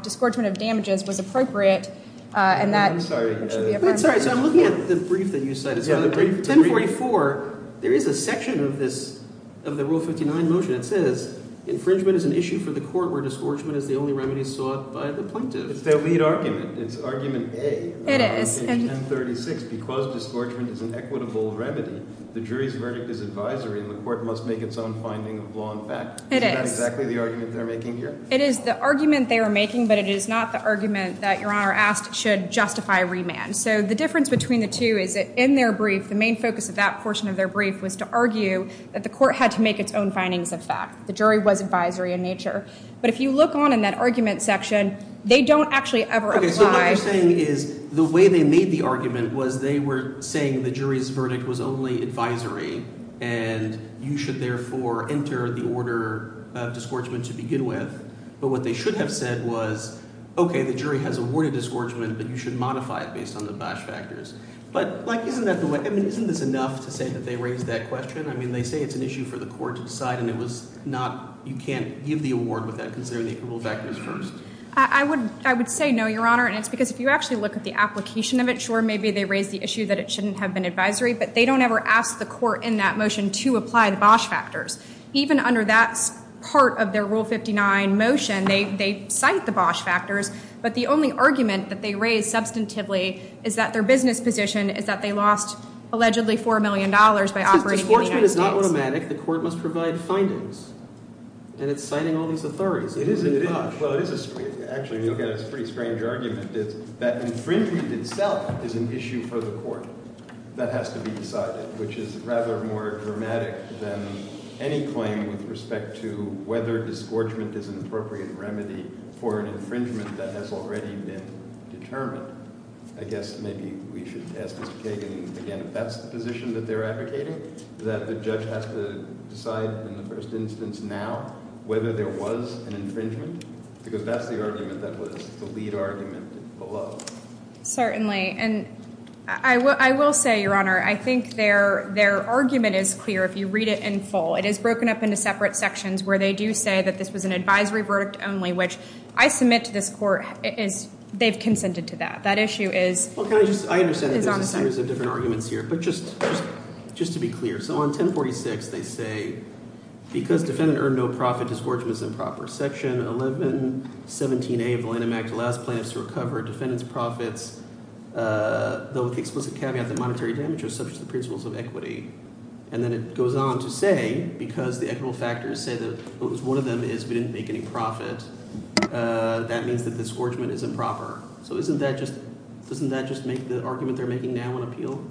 discouragement of damages was appropriate I'm sorry, I'm looking at the brief that you cited. In 24, there is a section of this, of the Rule 59 motion that says, infringement is an issue for the court where discouragement is the only remedy sought by the plaintiff. It's the main argument. It's argument A. It is. 1036, because discouragement is an equitable remedy, the jury's verdict is advisory and the court must make its own finding, law, and fact. It is. It's not exactly the argument they are making here. It is the argument they are making but it is not the argument that Your Honor asks should justify remand. So the difference between the two is that in their brief, the main focus of that portion of their brief was to argue that the court had to make its own findings of fact. The jury was advisory in nature. But if you look on in that argument section, they don't actually ever apply. Okay, so what you're saying is the way they made the argument was they were saying the jury's verdict was only advisory and you should therefore enter the order of discouragement to begin with. But what they should have said was, okay, the jury has awarded this order and you should modify it based on the Bosh factors. But isn't that enough to say that they raised that question? I mean, they say it's an issue for the court to decide and it was not, you can't give the award without considering the approval factors first. I would say no, Your Honor, and it's because if you actually look at the application of it, sure, maybe they raised the issue that it shouldn't have been advisory but they don't ever ask the court in that motion to apply the Bosh factors. Even under that part of their Rule 59 motion, they cite the Bosh factors but the only argument that they raised substantively is that their business position is that they lost allegedly $4 million by operating... If the enforcement is not automatic, the court must provide findings. And it's citing all these authorities. It is... Actually, if you look at it, it's a pretty strange argument that infringement itself is an issue for the court that has to be decided which is rather more dramatic than any claim with respect to whether disgorgement is an appropriate remedy for an infringement that has already been determined. I guess maybe we should ask this case again if that's the position that they're advocating that the judge has to decide in the first instance now whether there was an infringement because that's the argument that was the lead argument below. Certainly, and I will say, Your Honor, I think their argument is clear if you read it in full. It is broken up into separate sections where they do say that this is an advisory verdict only which I submit to this court they've consented to that. That issue is... I understand there's different arguments here. But just to be clear, so on 1046, they say, because defendant earned no profits is working as improper. Section 1117A of the Lanham Act allows clients to recover a defendant's profits though with no loss So, I think that goes on to say because the equitable factors say that if one of them didn't make any profits, that means that the scorchment is improper. So, doesn't that just make the argument they're making now on appeal?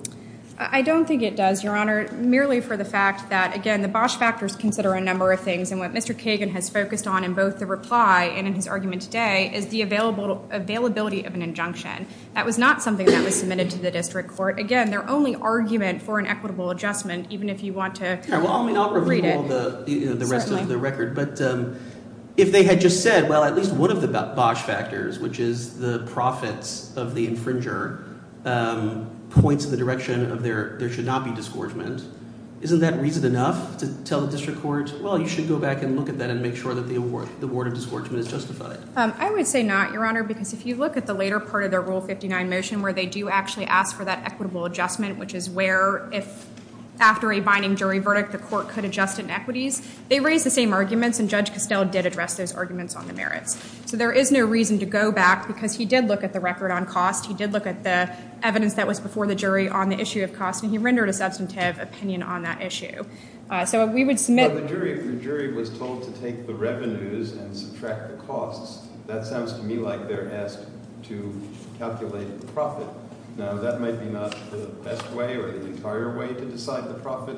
I don't think it does, Your Honor, merely for the fact that, again, the Bosch factors consider a number of things. And what Mr. Kagan has focused on in both the reply and in his argument today is the availability of an injunction. That was not something that was submitted to the district court. Again, their only argument for an equitable adjustment, even if you want to... I'll read the rest of the record. But if they had just said, well, at least one of the Bosch factors, which is the profits of the infringer, points in the direction of there should not be scorchments, isn't that reason enough to tell the district court, well, you should go back and look at that and make sure the board of scorchments is justified? I would say not, because if you look at the later part of the rule 59, they do ask for that equitable adjustment. They raised the same arguments. There is no reason to go back because he did look at the record on cost and the evidence before the jury on the issue of cost. He rendered a substantive opinion on that issue. The jury was told to take the revenues and subtract the costs. That sounds to me like they are asked to calculate the profit. That may not be the best way to decide the profit,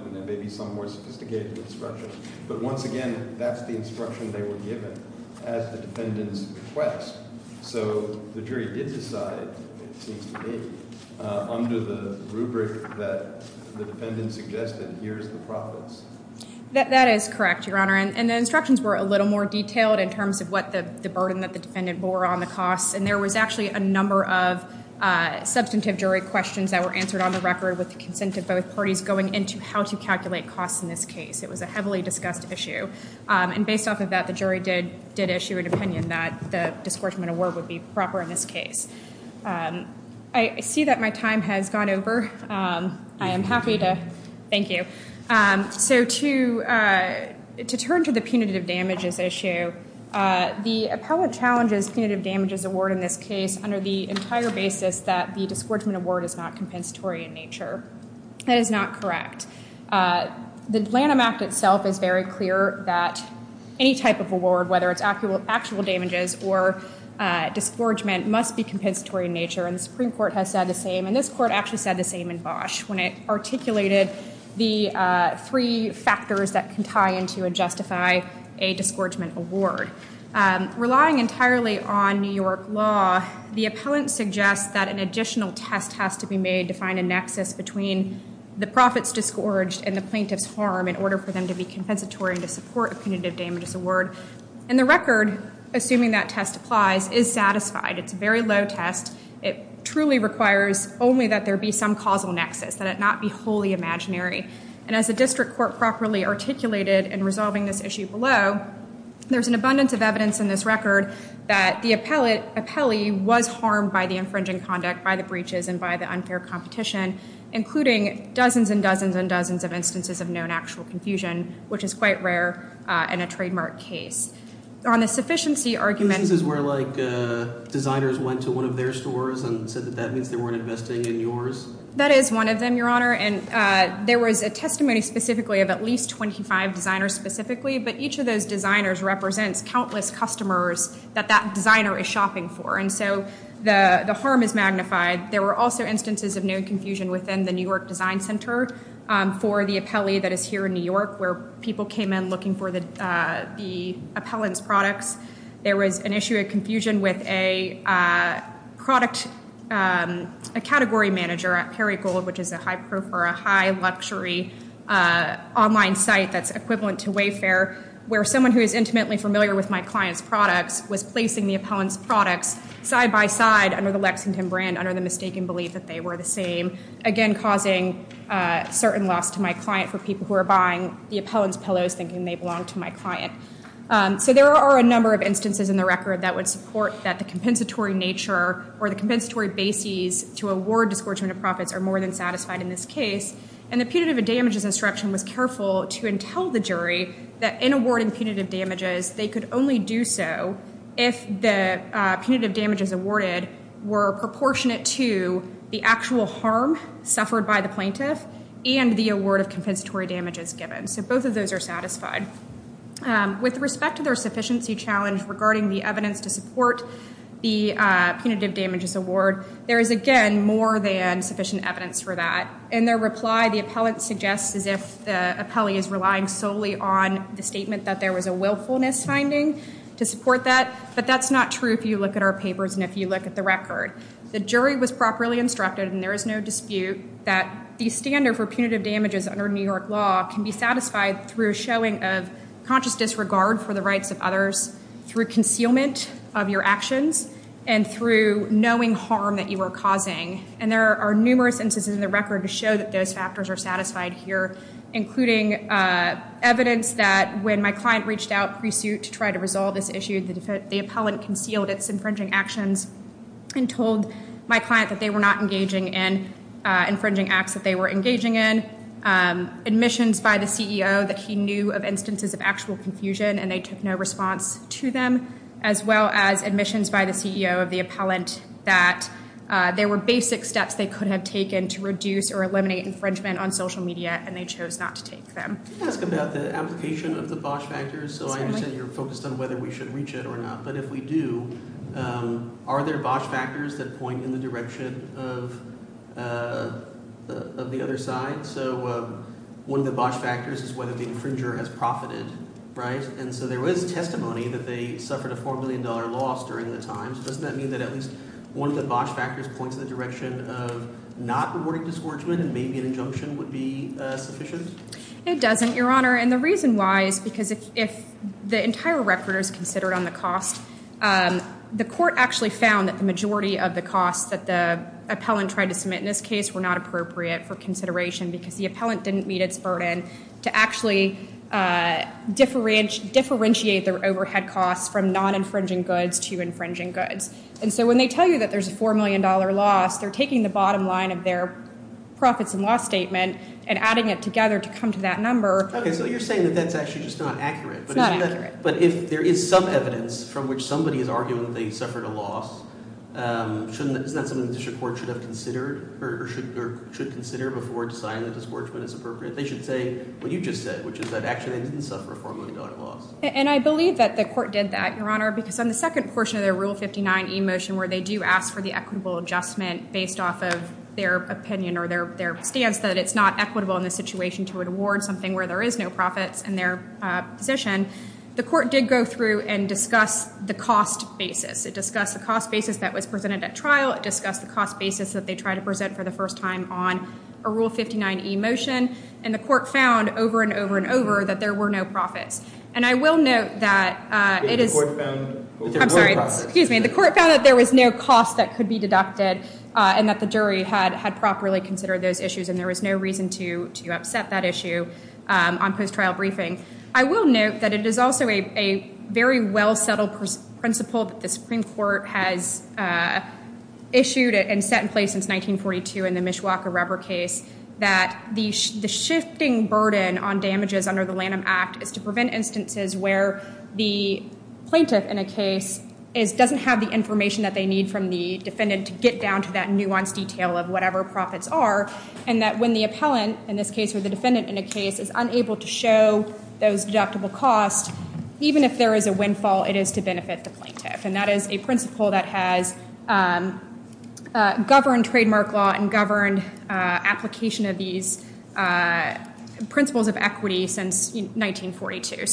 but once again, that's the instruction they were given as the defendant's request. So, the jury did decide under the rubric that the defendant suggested here is the profit. That is correct, Your Honor, and the instructions were a little more detailed in terms of the burden that the defendant bore on the cost. And there was actually a number of substantive jury questions that were answered on the record with consent of both parties going into how to calculate costs in this case. It was a heavily discussed issue. And based off of that, the jury did issue an opinion that the award would be proper to be compensatory in this case. I see that my time has gone over. I am happy to thank you. So, to turn to the punitive damages issue, the appellate challenges punitive damages award in this case under the entire basis that the actual damages or disgorgement must be compensatory in nature. The Supreme Court said the same when it articulated the three factors that can tie into a award. Relying entirely on New York law, the appellant suggests that an additional test has to be made to find a nexus between the profits disgorge and the plaintiff's harm. The record assuming that test applies is satisfied. It truly requires only that there be some causal nexus. As the district court articulated in resolving this issue below, there's an abundance of evidence in this record that the appellee was harmed by the infringing conduct, including dozens and dozens of instances of known actual confusion, which is quite rare in a trademark case. On the sufficiency argument — that is one of them, there was a testimony specifically of at least 25 designers, but each of those designers represents countless customers that that designer is shopping for. There were also instances of known confusion within the New York design center for the appellee that is here in New York where people came in looking for the appellant's products. There was an issue of confusion with a category manager which is luxury online site that's equivalent to Wayfair where someone who is familiar with my client's product was placing the appellant's product side by side under the mistaken belief that they were the same again causing certain loss to my client. So there are a number of instances in the record that would support that. And the punitive damages instruction was careful to tell the jury that in awarding punitive damages they could only do so if the punitive damages awarded were proportionate to the actual harm suffered by the plaintiff and the award of compensatory damages given. With respect to the evidence to support the punitive damages award, there is no dispute that the standard for punitive damages under New York law can be satisfied through showing a conscious disregard for the rights of others, through concealment of your actions, and through knowing harm that you were causing. And there are numerous instances in the record to show that those factors are satisfied here, including evidence that when my client reached out to try to resolve this issue and told my client that they were not engaging in infringing acts that they were engaging in, admissions by the CEO that he knew of actual confusion and they took no responsibility numerous instances in the record to show that the CEO of the appellant that there were basic steps they could have taken to reduce or eliminate infringement on social media and they chose not to take them. So that's the application of the BOSH factors. So I understand you're focused on whether we should reach it or not, but if we do, are there BOSH factors that point in the direction of the other side? So one of the BOSH factors is whether the infringer has profited. Right? And so there is testimony that they suffered a $4 million loss during the time. Does that mean that one of the BOSH factors points in the direction of not rewarding this infringement and maybe an injunction would be sufficient? It doesn't, Your Honor, and the reason why is because if the entire record is considered on the cost, the court actually found that the majority of the cost that the appellant tried to submit in this case were not appropriate for consideration because the appellant didn't meet its burden to actually differentiate their overhead costs from non-infringing goods to infringing goods. And so when they tell you that there's a $4 million loss, they're taking the bottom line of their profits and loss statement and adding it together to come to that number. Okay, so you're saying that that's actually just not accurate. Not accurate. But if there is some evidence from which somebody is arguing that they suffered a loss, shouldn't the court consider or should consider before deciding if it's appropriate? They should you just said, which is that actually they didn't suffer a $4 million loss. And I believe that the court did that, Your Honor, because on the second portion of their rule 59E motion where they do ask for the equitable adjustment based off of their opinion or their stance that it's not equitable in this situation to award something where there is no profit in their position, the court did go through and discuss the cost basis. It discussed the cost basis that was presented at trial. It discussed the cost basis that they tried to present for the first time on a rule 59E motion. And the court found over and over and over that there were no profits. And I will note that the court found there was no cost that could be deducted and that the jury had properly considered those issues and there was no reason to upset that issue. I will note that it is also a very well settled principle that the Supreme Court has issued and set in place since 1942 that the shifting burden is to prevent instances where the plaintiff in a case is unable to show those costs even if there is a windfall. And that is a principle that has governed trademark law and governed application of these principles of equity since 1942.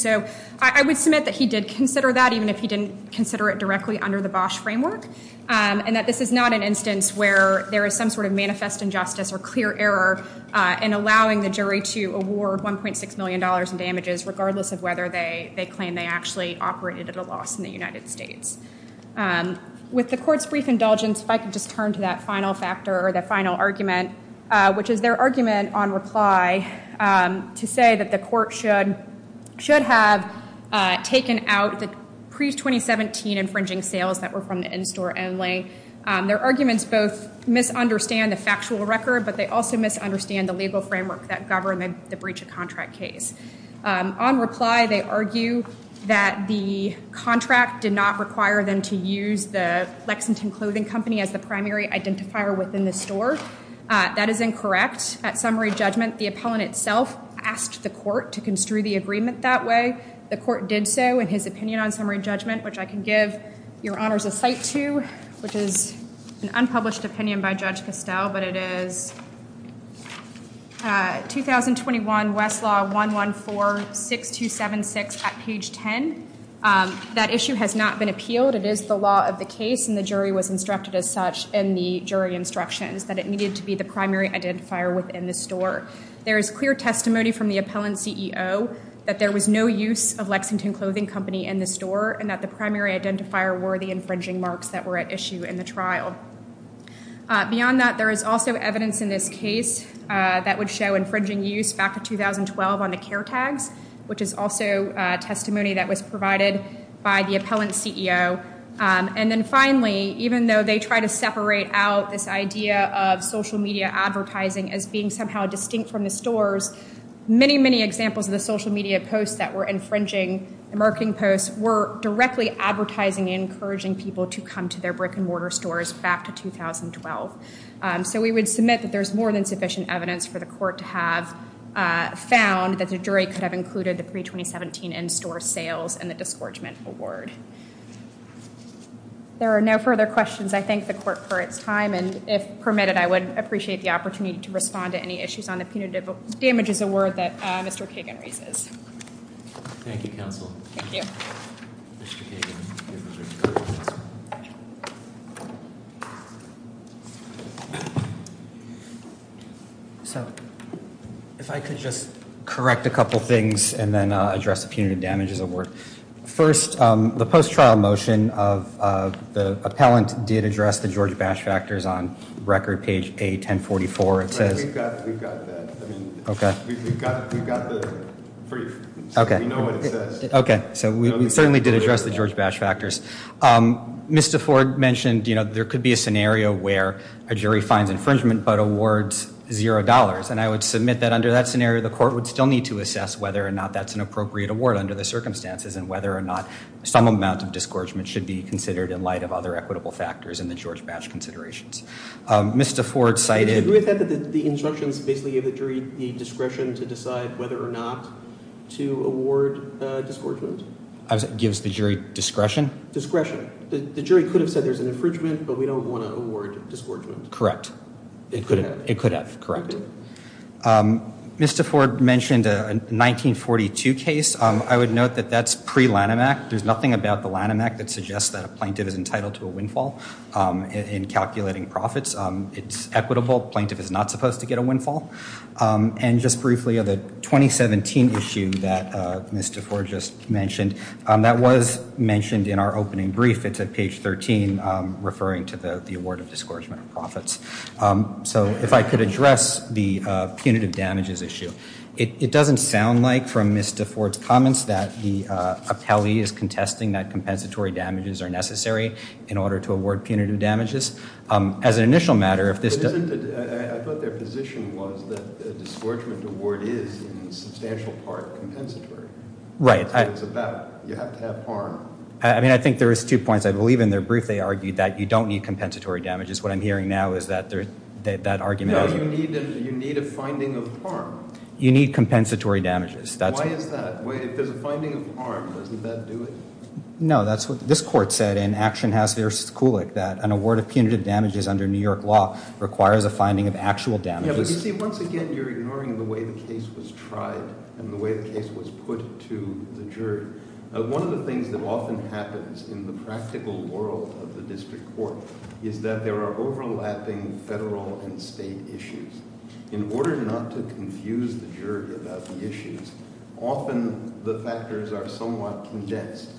I would submit that he did consider that even if he didn't consider it directly under the Bosch framework. This is not an instance where there is a clear error in allowing the jury to award $1.6 million regardless of whether they claim they operated at a loss in the United States. With the court's brief indulgence I will turn to the final argument which is their argument on reply to say that the court should have taken out the pre-2017 infringing sales that were from the in-store only. Their arguments both misunderstand the factual record but they also misunderstand the legal framework that governed the breach of contract case. On reply they argue that the contract did not require them to use the Lexington clothing company as a primary identifier within the store. That is incorrect. The appellant asked the court to construe the agreement that way. The court did so in his opinion which I can give your attention to. they argue that the court should have taken out the pre-2017 infringing sales that were from the Lexington clothing company as a primary identifier within the store. Beyond that, there is also evidence in this case that would show infringing use back in 2012 on the care tag which is also testimony provided by the appellant CEO. Finally, even though they try to separate out this idea of social media advertising as being distinct from the pre-2017 in-store sales, the court found that the jury could have included the pre-2017 in-store sales in the award. There are no further questions. If permitted, I would appreciate the opportunity to respond to any questions the jury has. Thank you. If I could just correct a couple of things and then address the damages of the work. First, the post-trial motion of the appellant did address the Georgia bash factors on record page 1044. We have that. We certainly did address the Georgia bash factors. Mr. Ford mentioned there could be a scenario where a jury finds infringement but awards $0. Under that scenario, the court would still need to assess whether or not that's an appropriate award. Mr. Ford cited the injunctions basically need discretion to decide whether or not to award discretion. The jury could have said there's an infringement but we don't want to award discretion. Mr. Ford mentioned a 1942 case. I would note that that's pre-Lanham act. There's no not it's equitable. Plaintiff is not supposed to get a windfall. The 2017 issue that Mr. Ford just mentioned, that was mentioned in our opening brief. If I could address the punitive damages issue, it doesn't sound like from Mr. Ford's comments that the appellee is contesting that compensatory damages are necessary. As an initial matter. I think there's two points. I believe in their brief they argued that you don't need compensatory damages. What I'm hearing now is that argument. You need a finding of harm. You need compensatory damages. Why is that? No, that's what this court said. An award of punitive damages requires a finding of actual damages. You're ignoring the way the case was put to the jury. One of the things that often happens in the practical world of the district court is that there are overlapping federal and state issues. In order not to confuse the jury about the issues, often the factors are somewhat condensed.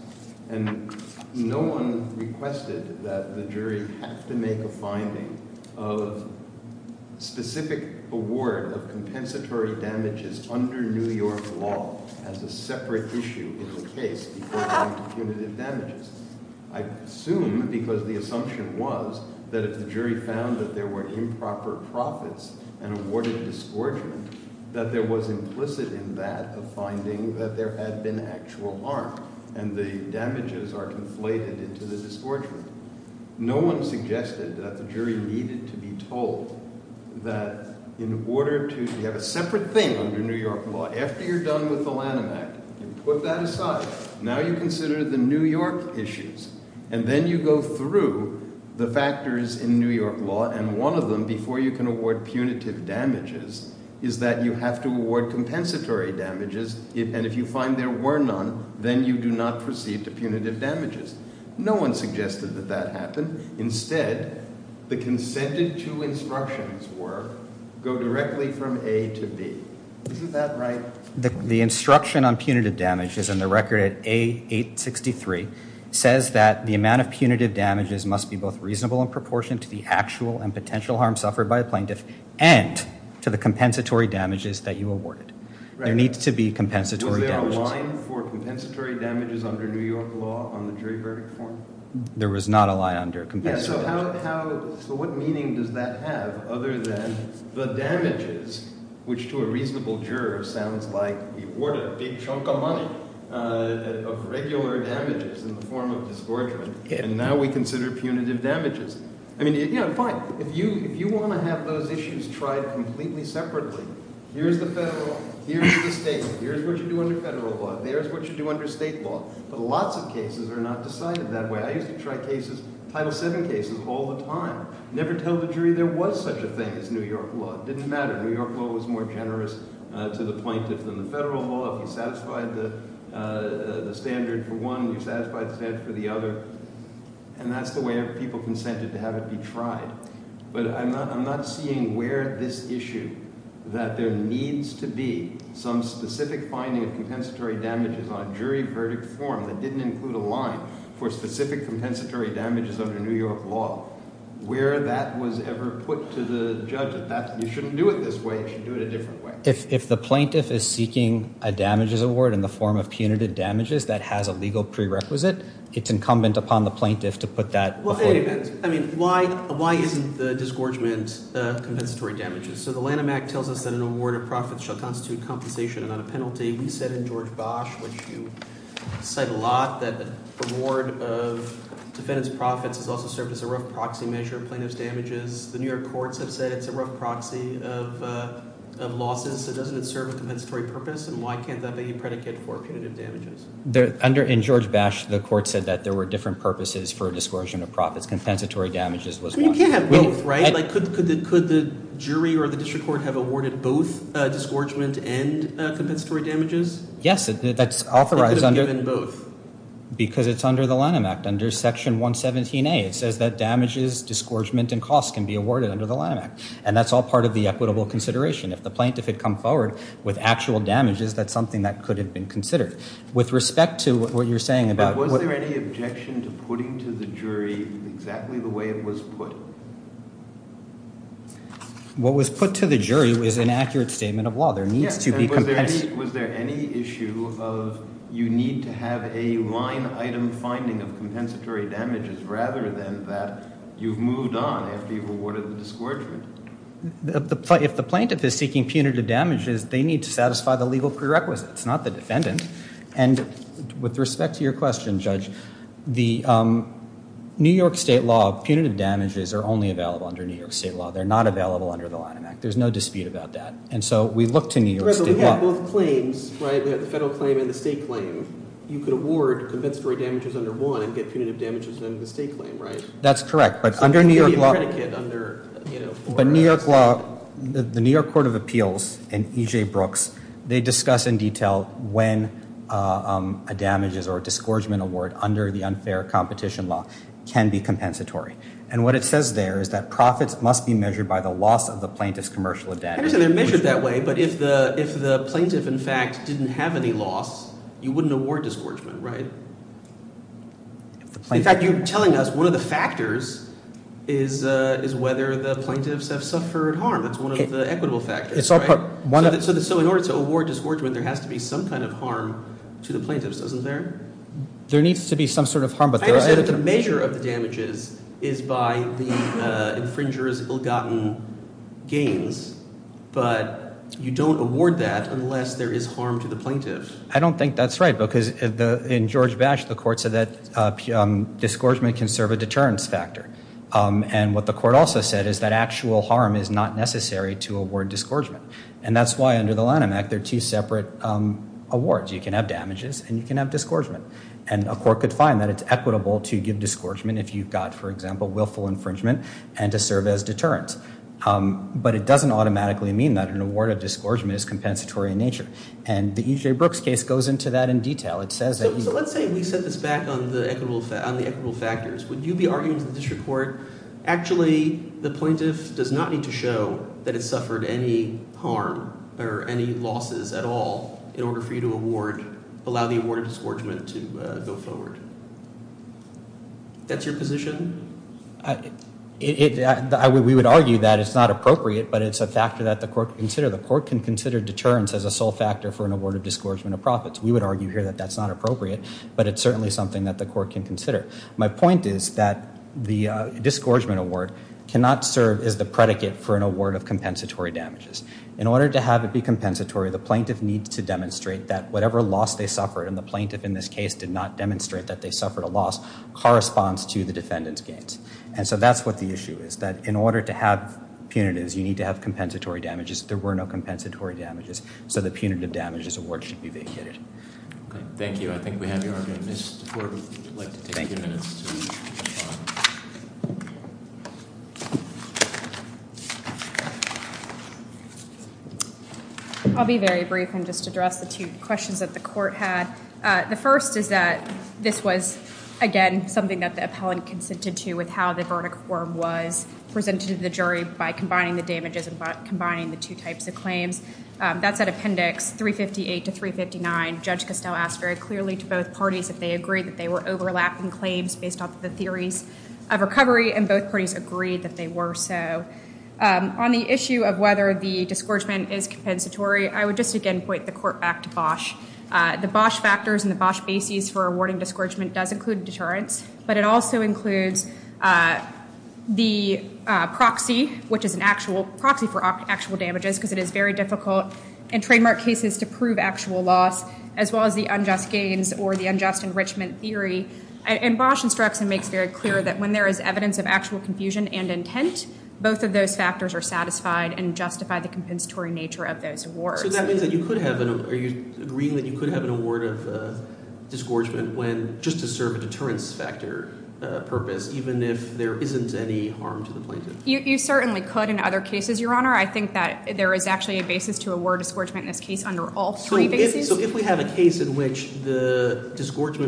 No one requested that the jury make a finding of specific award of compensatory damages under New York law as a separate issue in the case. I assume because the assumption was that if the jury found that there were improper profits, that there was implicit in that finding that there had been actual harm and the damages are inflated into the dischargement. No one suggested that that happen. Instead, go directly from the district court and the district court and the district court and the district court and the court. The instruction on punitive damages says that the amount of punitive damages must be reasonable and proportional to the potential harm suffered by a plaintiff and the compensatory damages that you awarded. There needs to be compensatory damages. There was not a lie under compensatory damages. So what meaning does that have other than the damages which to a reasonable juror sounds like a regular damage and now we consider punitive damages. If you want to do can do it. can do it under the federal law. There is a lot of cases that are not decided that way. I used to try cases all the time. Never told the jury that they should do it this way. If the plaintiff is seeking a damages award in the form of punitive damages that has a legal prerequisite it is incumbent upon the plaintiff to put that. Why isn't the discouragement compensatory damages. He said in the court there were different purposes. You can't have both. Could the jury or district court have awarded both discouragement and compensatory damages. It is under the line act. It says damages and costs can be awarded. If the plaintiff comes forward with damages that could have been considered. With respect to what you are saying. Was there any objection to putting to the jury exactly the way it was put. Was there any issue of you need to have a line item finding and compensatory damages rather than you moved on. If the plaintiff is seeking punitive damages they need to satisfy the legal prerequisites. With respect to your question judge the New York state law punitive damages are only available under New York state law. There is no dispute about that. We look to New York state law. You can award damages under one. That's correct. The New York court of appeals and EJ Brooks discuss in detail when a damages under the unfair competition law can be compensatory. Profits must be measured by the loss of the plaintiff's commercial debt. If the plaintiff have any loss you wouldn't award it. One of the factors is whether the plaintiffs have suffered harm. In order to that, the measure of the damages is by the infringer's gains, but you don't award that unless there is harm to the plaintiff. I don't think that's right. In George Bash the court said that discouragement can serve a deterrence factor. The court said actual harm is not necessary. That's why there are two separate awards. You can have damages and discouragement. It's equitable to give discouragement if you have willful infringement but it doesn't automatically mean that. It goes into that in detail. Let's set this back on the equitable factors. The plaintiff does not need to show that it suffered any harm in order for you to allow the award to go forward. That's your position? We would argue that it's not appropriate but it's a factor that the court can consider deterrence as a sole factor. My point is that the discouragement award cannot serve as a predicate for compensatory damages. In order to have it be compensatory the plaintiff needs to demonstrate that whatever loss they suffered corresponds to the defendant's gains. That's what the issue is. In order to have punitive damages you need to have compensatory damages. There were no compensatory damages. The punitive damages award should be vacated. Thank you. I'll be very brief and just address a few questions that the court had. The first is that this was again something that the appellant consented to with how the verdict form was presented to the jury. That's that appendix 358 to 359. They agreed that they were overlapping claims based on the theory of recovery. On the issue of whether the discouragement is compensatory I would suggest that should not be compensated for that. That would include the proxy for actual damages because it is very difficult and trademark cases to prove actual loss as well as the unjust gains or the unjust enrichment theory. When there is evidence of actual confusion and intent both of those factors are satisfied and justify the compensatory nature of those awards. You could have an award of discouragement just to serve a deterrence purpose even if there isn't any harm to the plaintiff. You certainly could in other cases. I think there is a basis to award discouragement in this case. If we have a case in which the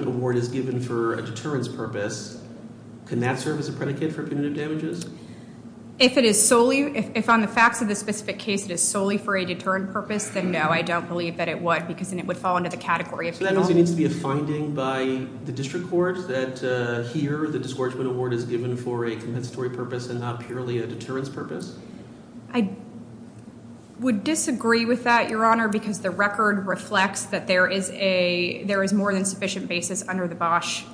award is given for a deterrence purpose can that serve as a predicate for damages? If it is solely for a deterrence purpose then no. I don't believe it would. It would fall under the category. Is it a finding by the district court that the award is given for a deterrence purpose? I would disagree with that because the record reflects that there is more than sufficient evidence. There should have been a finding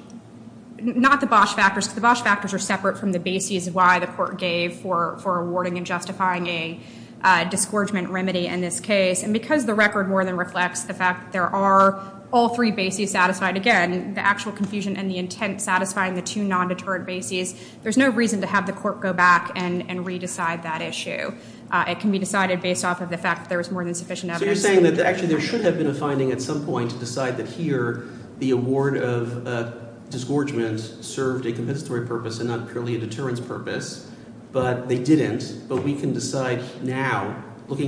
I don't agree with that. I don't agree with that. I don't agree with that. I don't agree with agree with that. award officially offered a deterrence purpose all the time then it would have served a purpose. We can decide now looking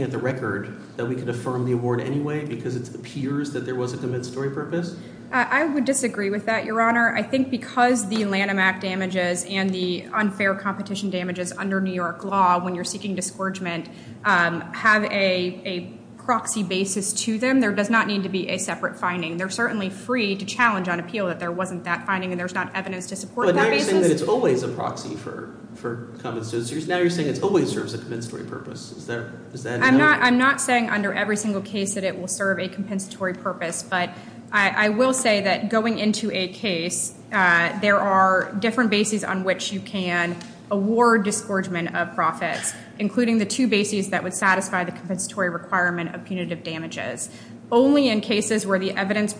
at the record that we can affirm the award anyway? I would disagree with that your honor. I think because the unfair competition damages under New York law have a proxy basis to them there does not need to be a compensatory purpose. I am not saying under every case it will serve a compensatory purpose. I will say going into a case there are different bases on which you can award discouragement of profit including the two bases that would satisfy the requirement of punitive damages. Only in a case where there is a risk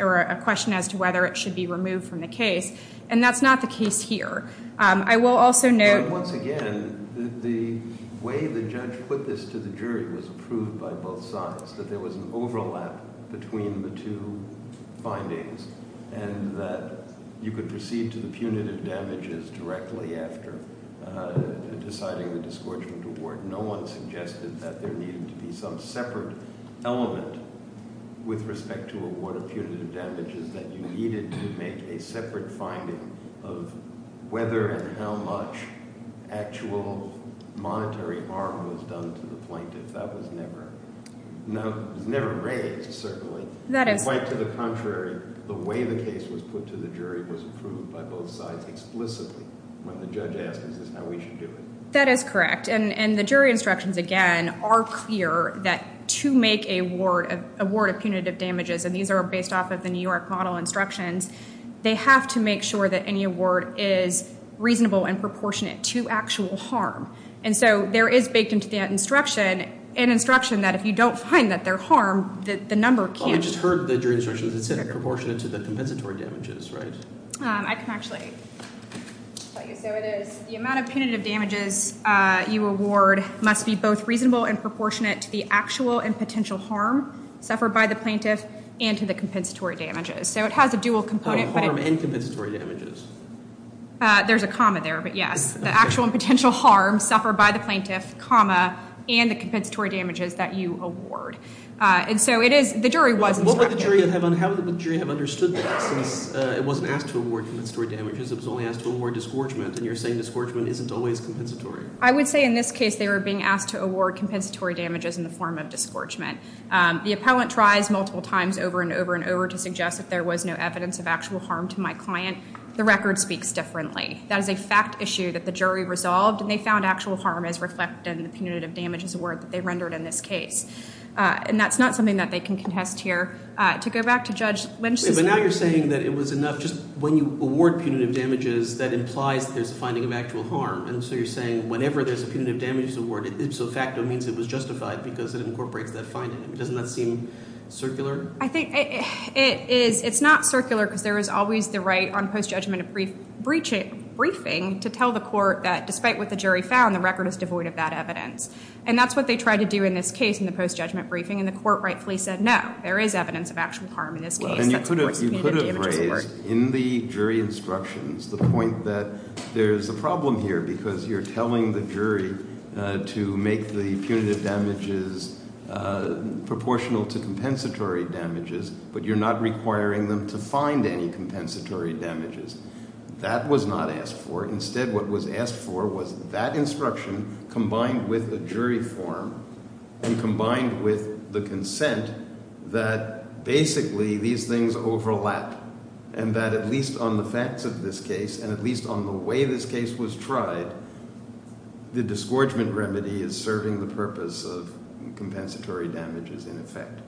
or a question as to whether it should be removed from the case. That is not the case here. I will also note once again the way the judge put this to the jury was proved by both sides. There was an overlap between the two findings and you could proceed to the punitive damages directly after deciding the discouragement award. No one suggested that there needed to be some separate element with respect to the punitive damages that you needed to make a separate finding of whether and how much actual harm was by the punitive damages. The jury instructions are clear that to make an award of punitive damages, they have to make sure that any award is reasonable and proportionate to actual harm. There is an instruction that if you don't find that there is reasonable and proportionate to the actual and potential harm suffered by the plaintiff and to the compensatory damages. There is a comma there. The actual and potential harm suffered by the plaintiff and the compensatory damages that you award. There is an instruction that if you that there is reasonable and suffered by plaintiff and the compensatory damages, there is an instruction that if you don't find that there is reasonable and proportionate to the actual harm compensatory damages, an instruction that if you that there is reasonable and proportionate to the actual harm suffered by the plaintiff and the compensatory damages, there is an instruction that if you don't find that there is and proportionate to the actual harm you could have raised in the jury instructions the point that there is a problem here because you are telling the jury to make the punitive damages proportional to compensatory damages but you don't have the consent that basically these things overlap and that at least on the facts of this case and at least on the way this case was tried the disgorgement remedy is serving the purpose of compensatory damages in effect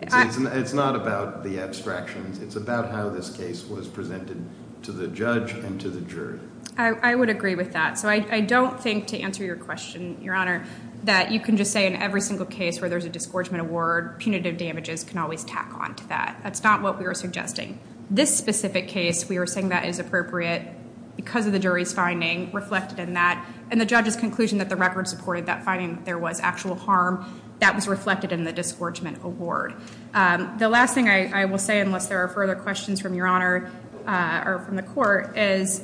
it's not about the abstractions it's about how this case was presented to the judge and to the jury I would agree with that I don't think to answer your question your honor you can say in every case where there is a disgorgement reward punitive damages that's not what we were suggesting this specific case we were saying that is appropriate because of the jury's finding and the judge's conclusion there was actual harm that was reflected in the disgorgement reward the last thing I will say is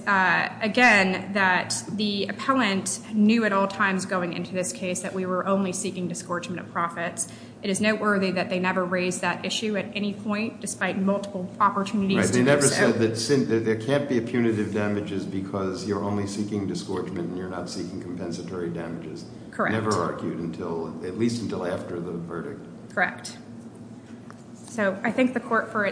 again that the appellant knew at all times going into this case that we were only seeking disgorgement of profit it is noteworthy that they never raised that issue at any point they never said that there can't be punitive damages because you are only seeking disgorgement you are not seeking compensatory damages never argued at least until after the verdict correct I thank the court for their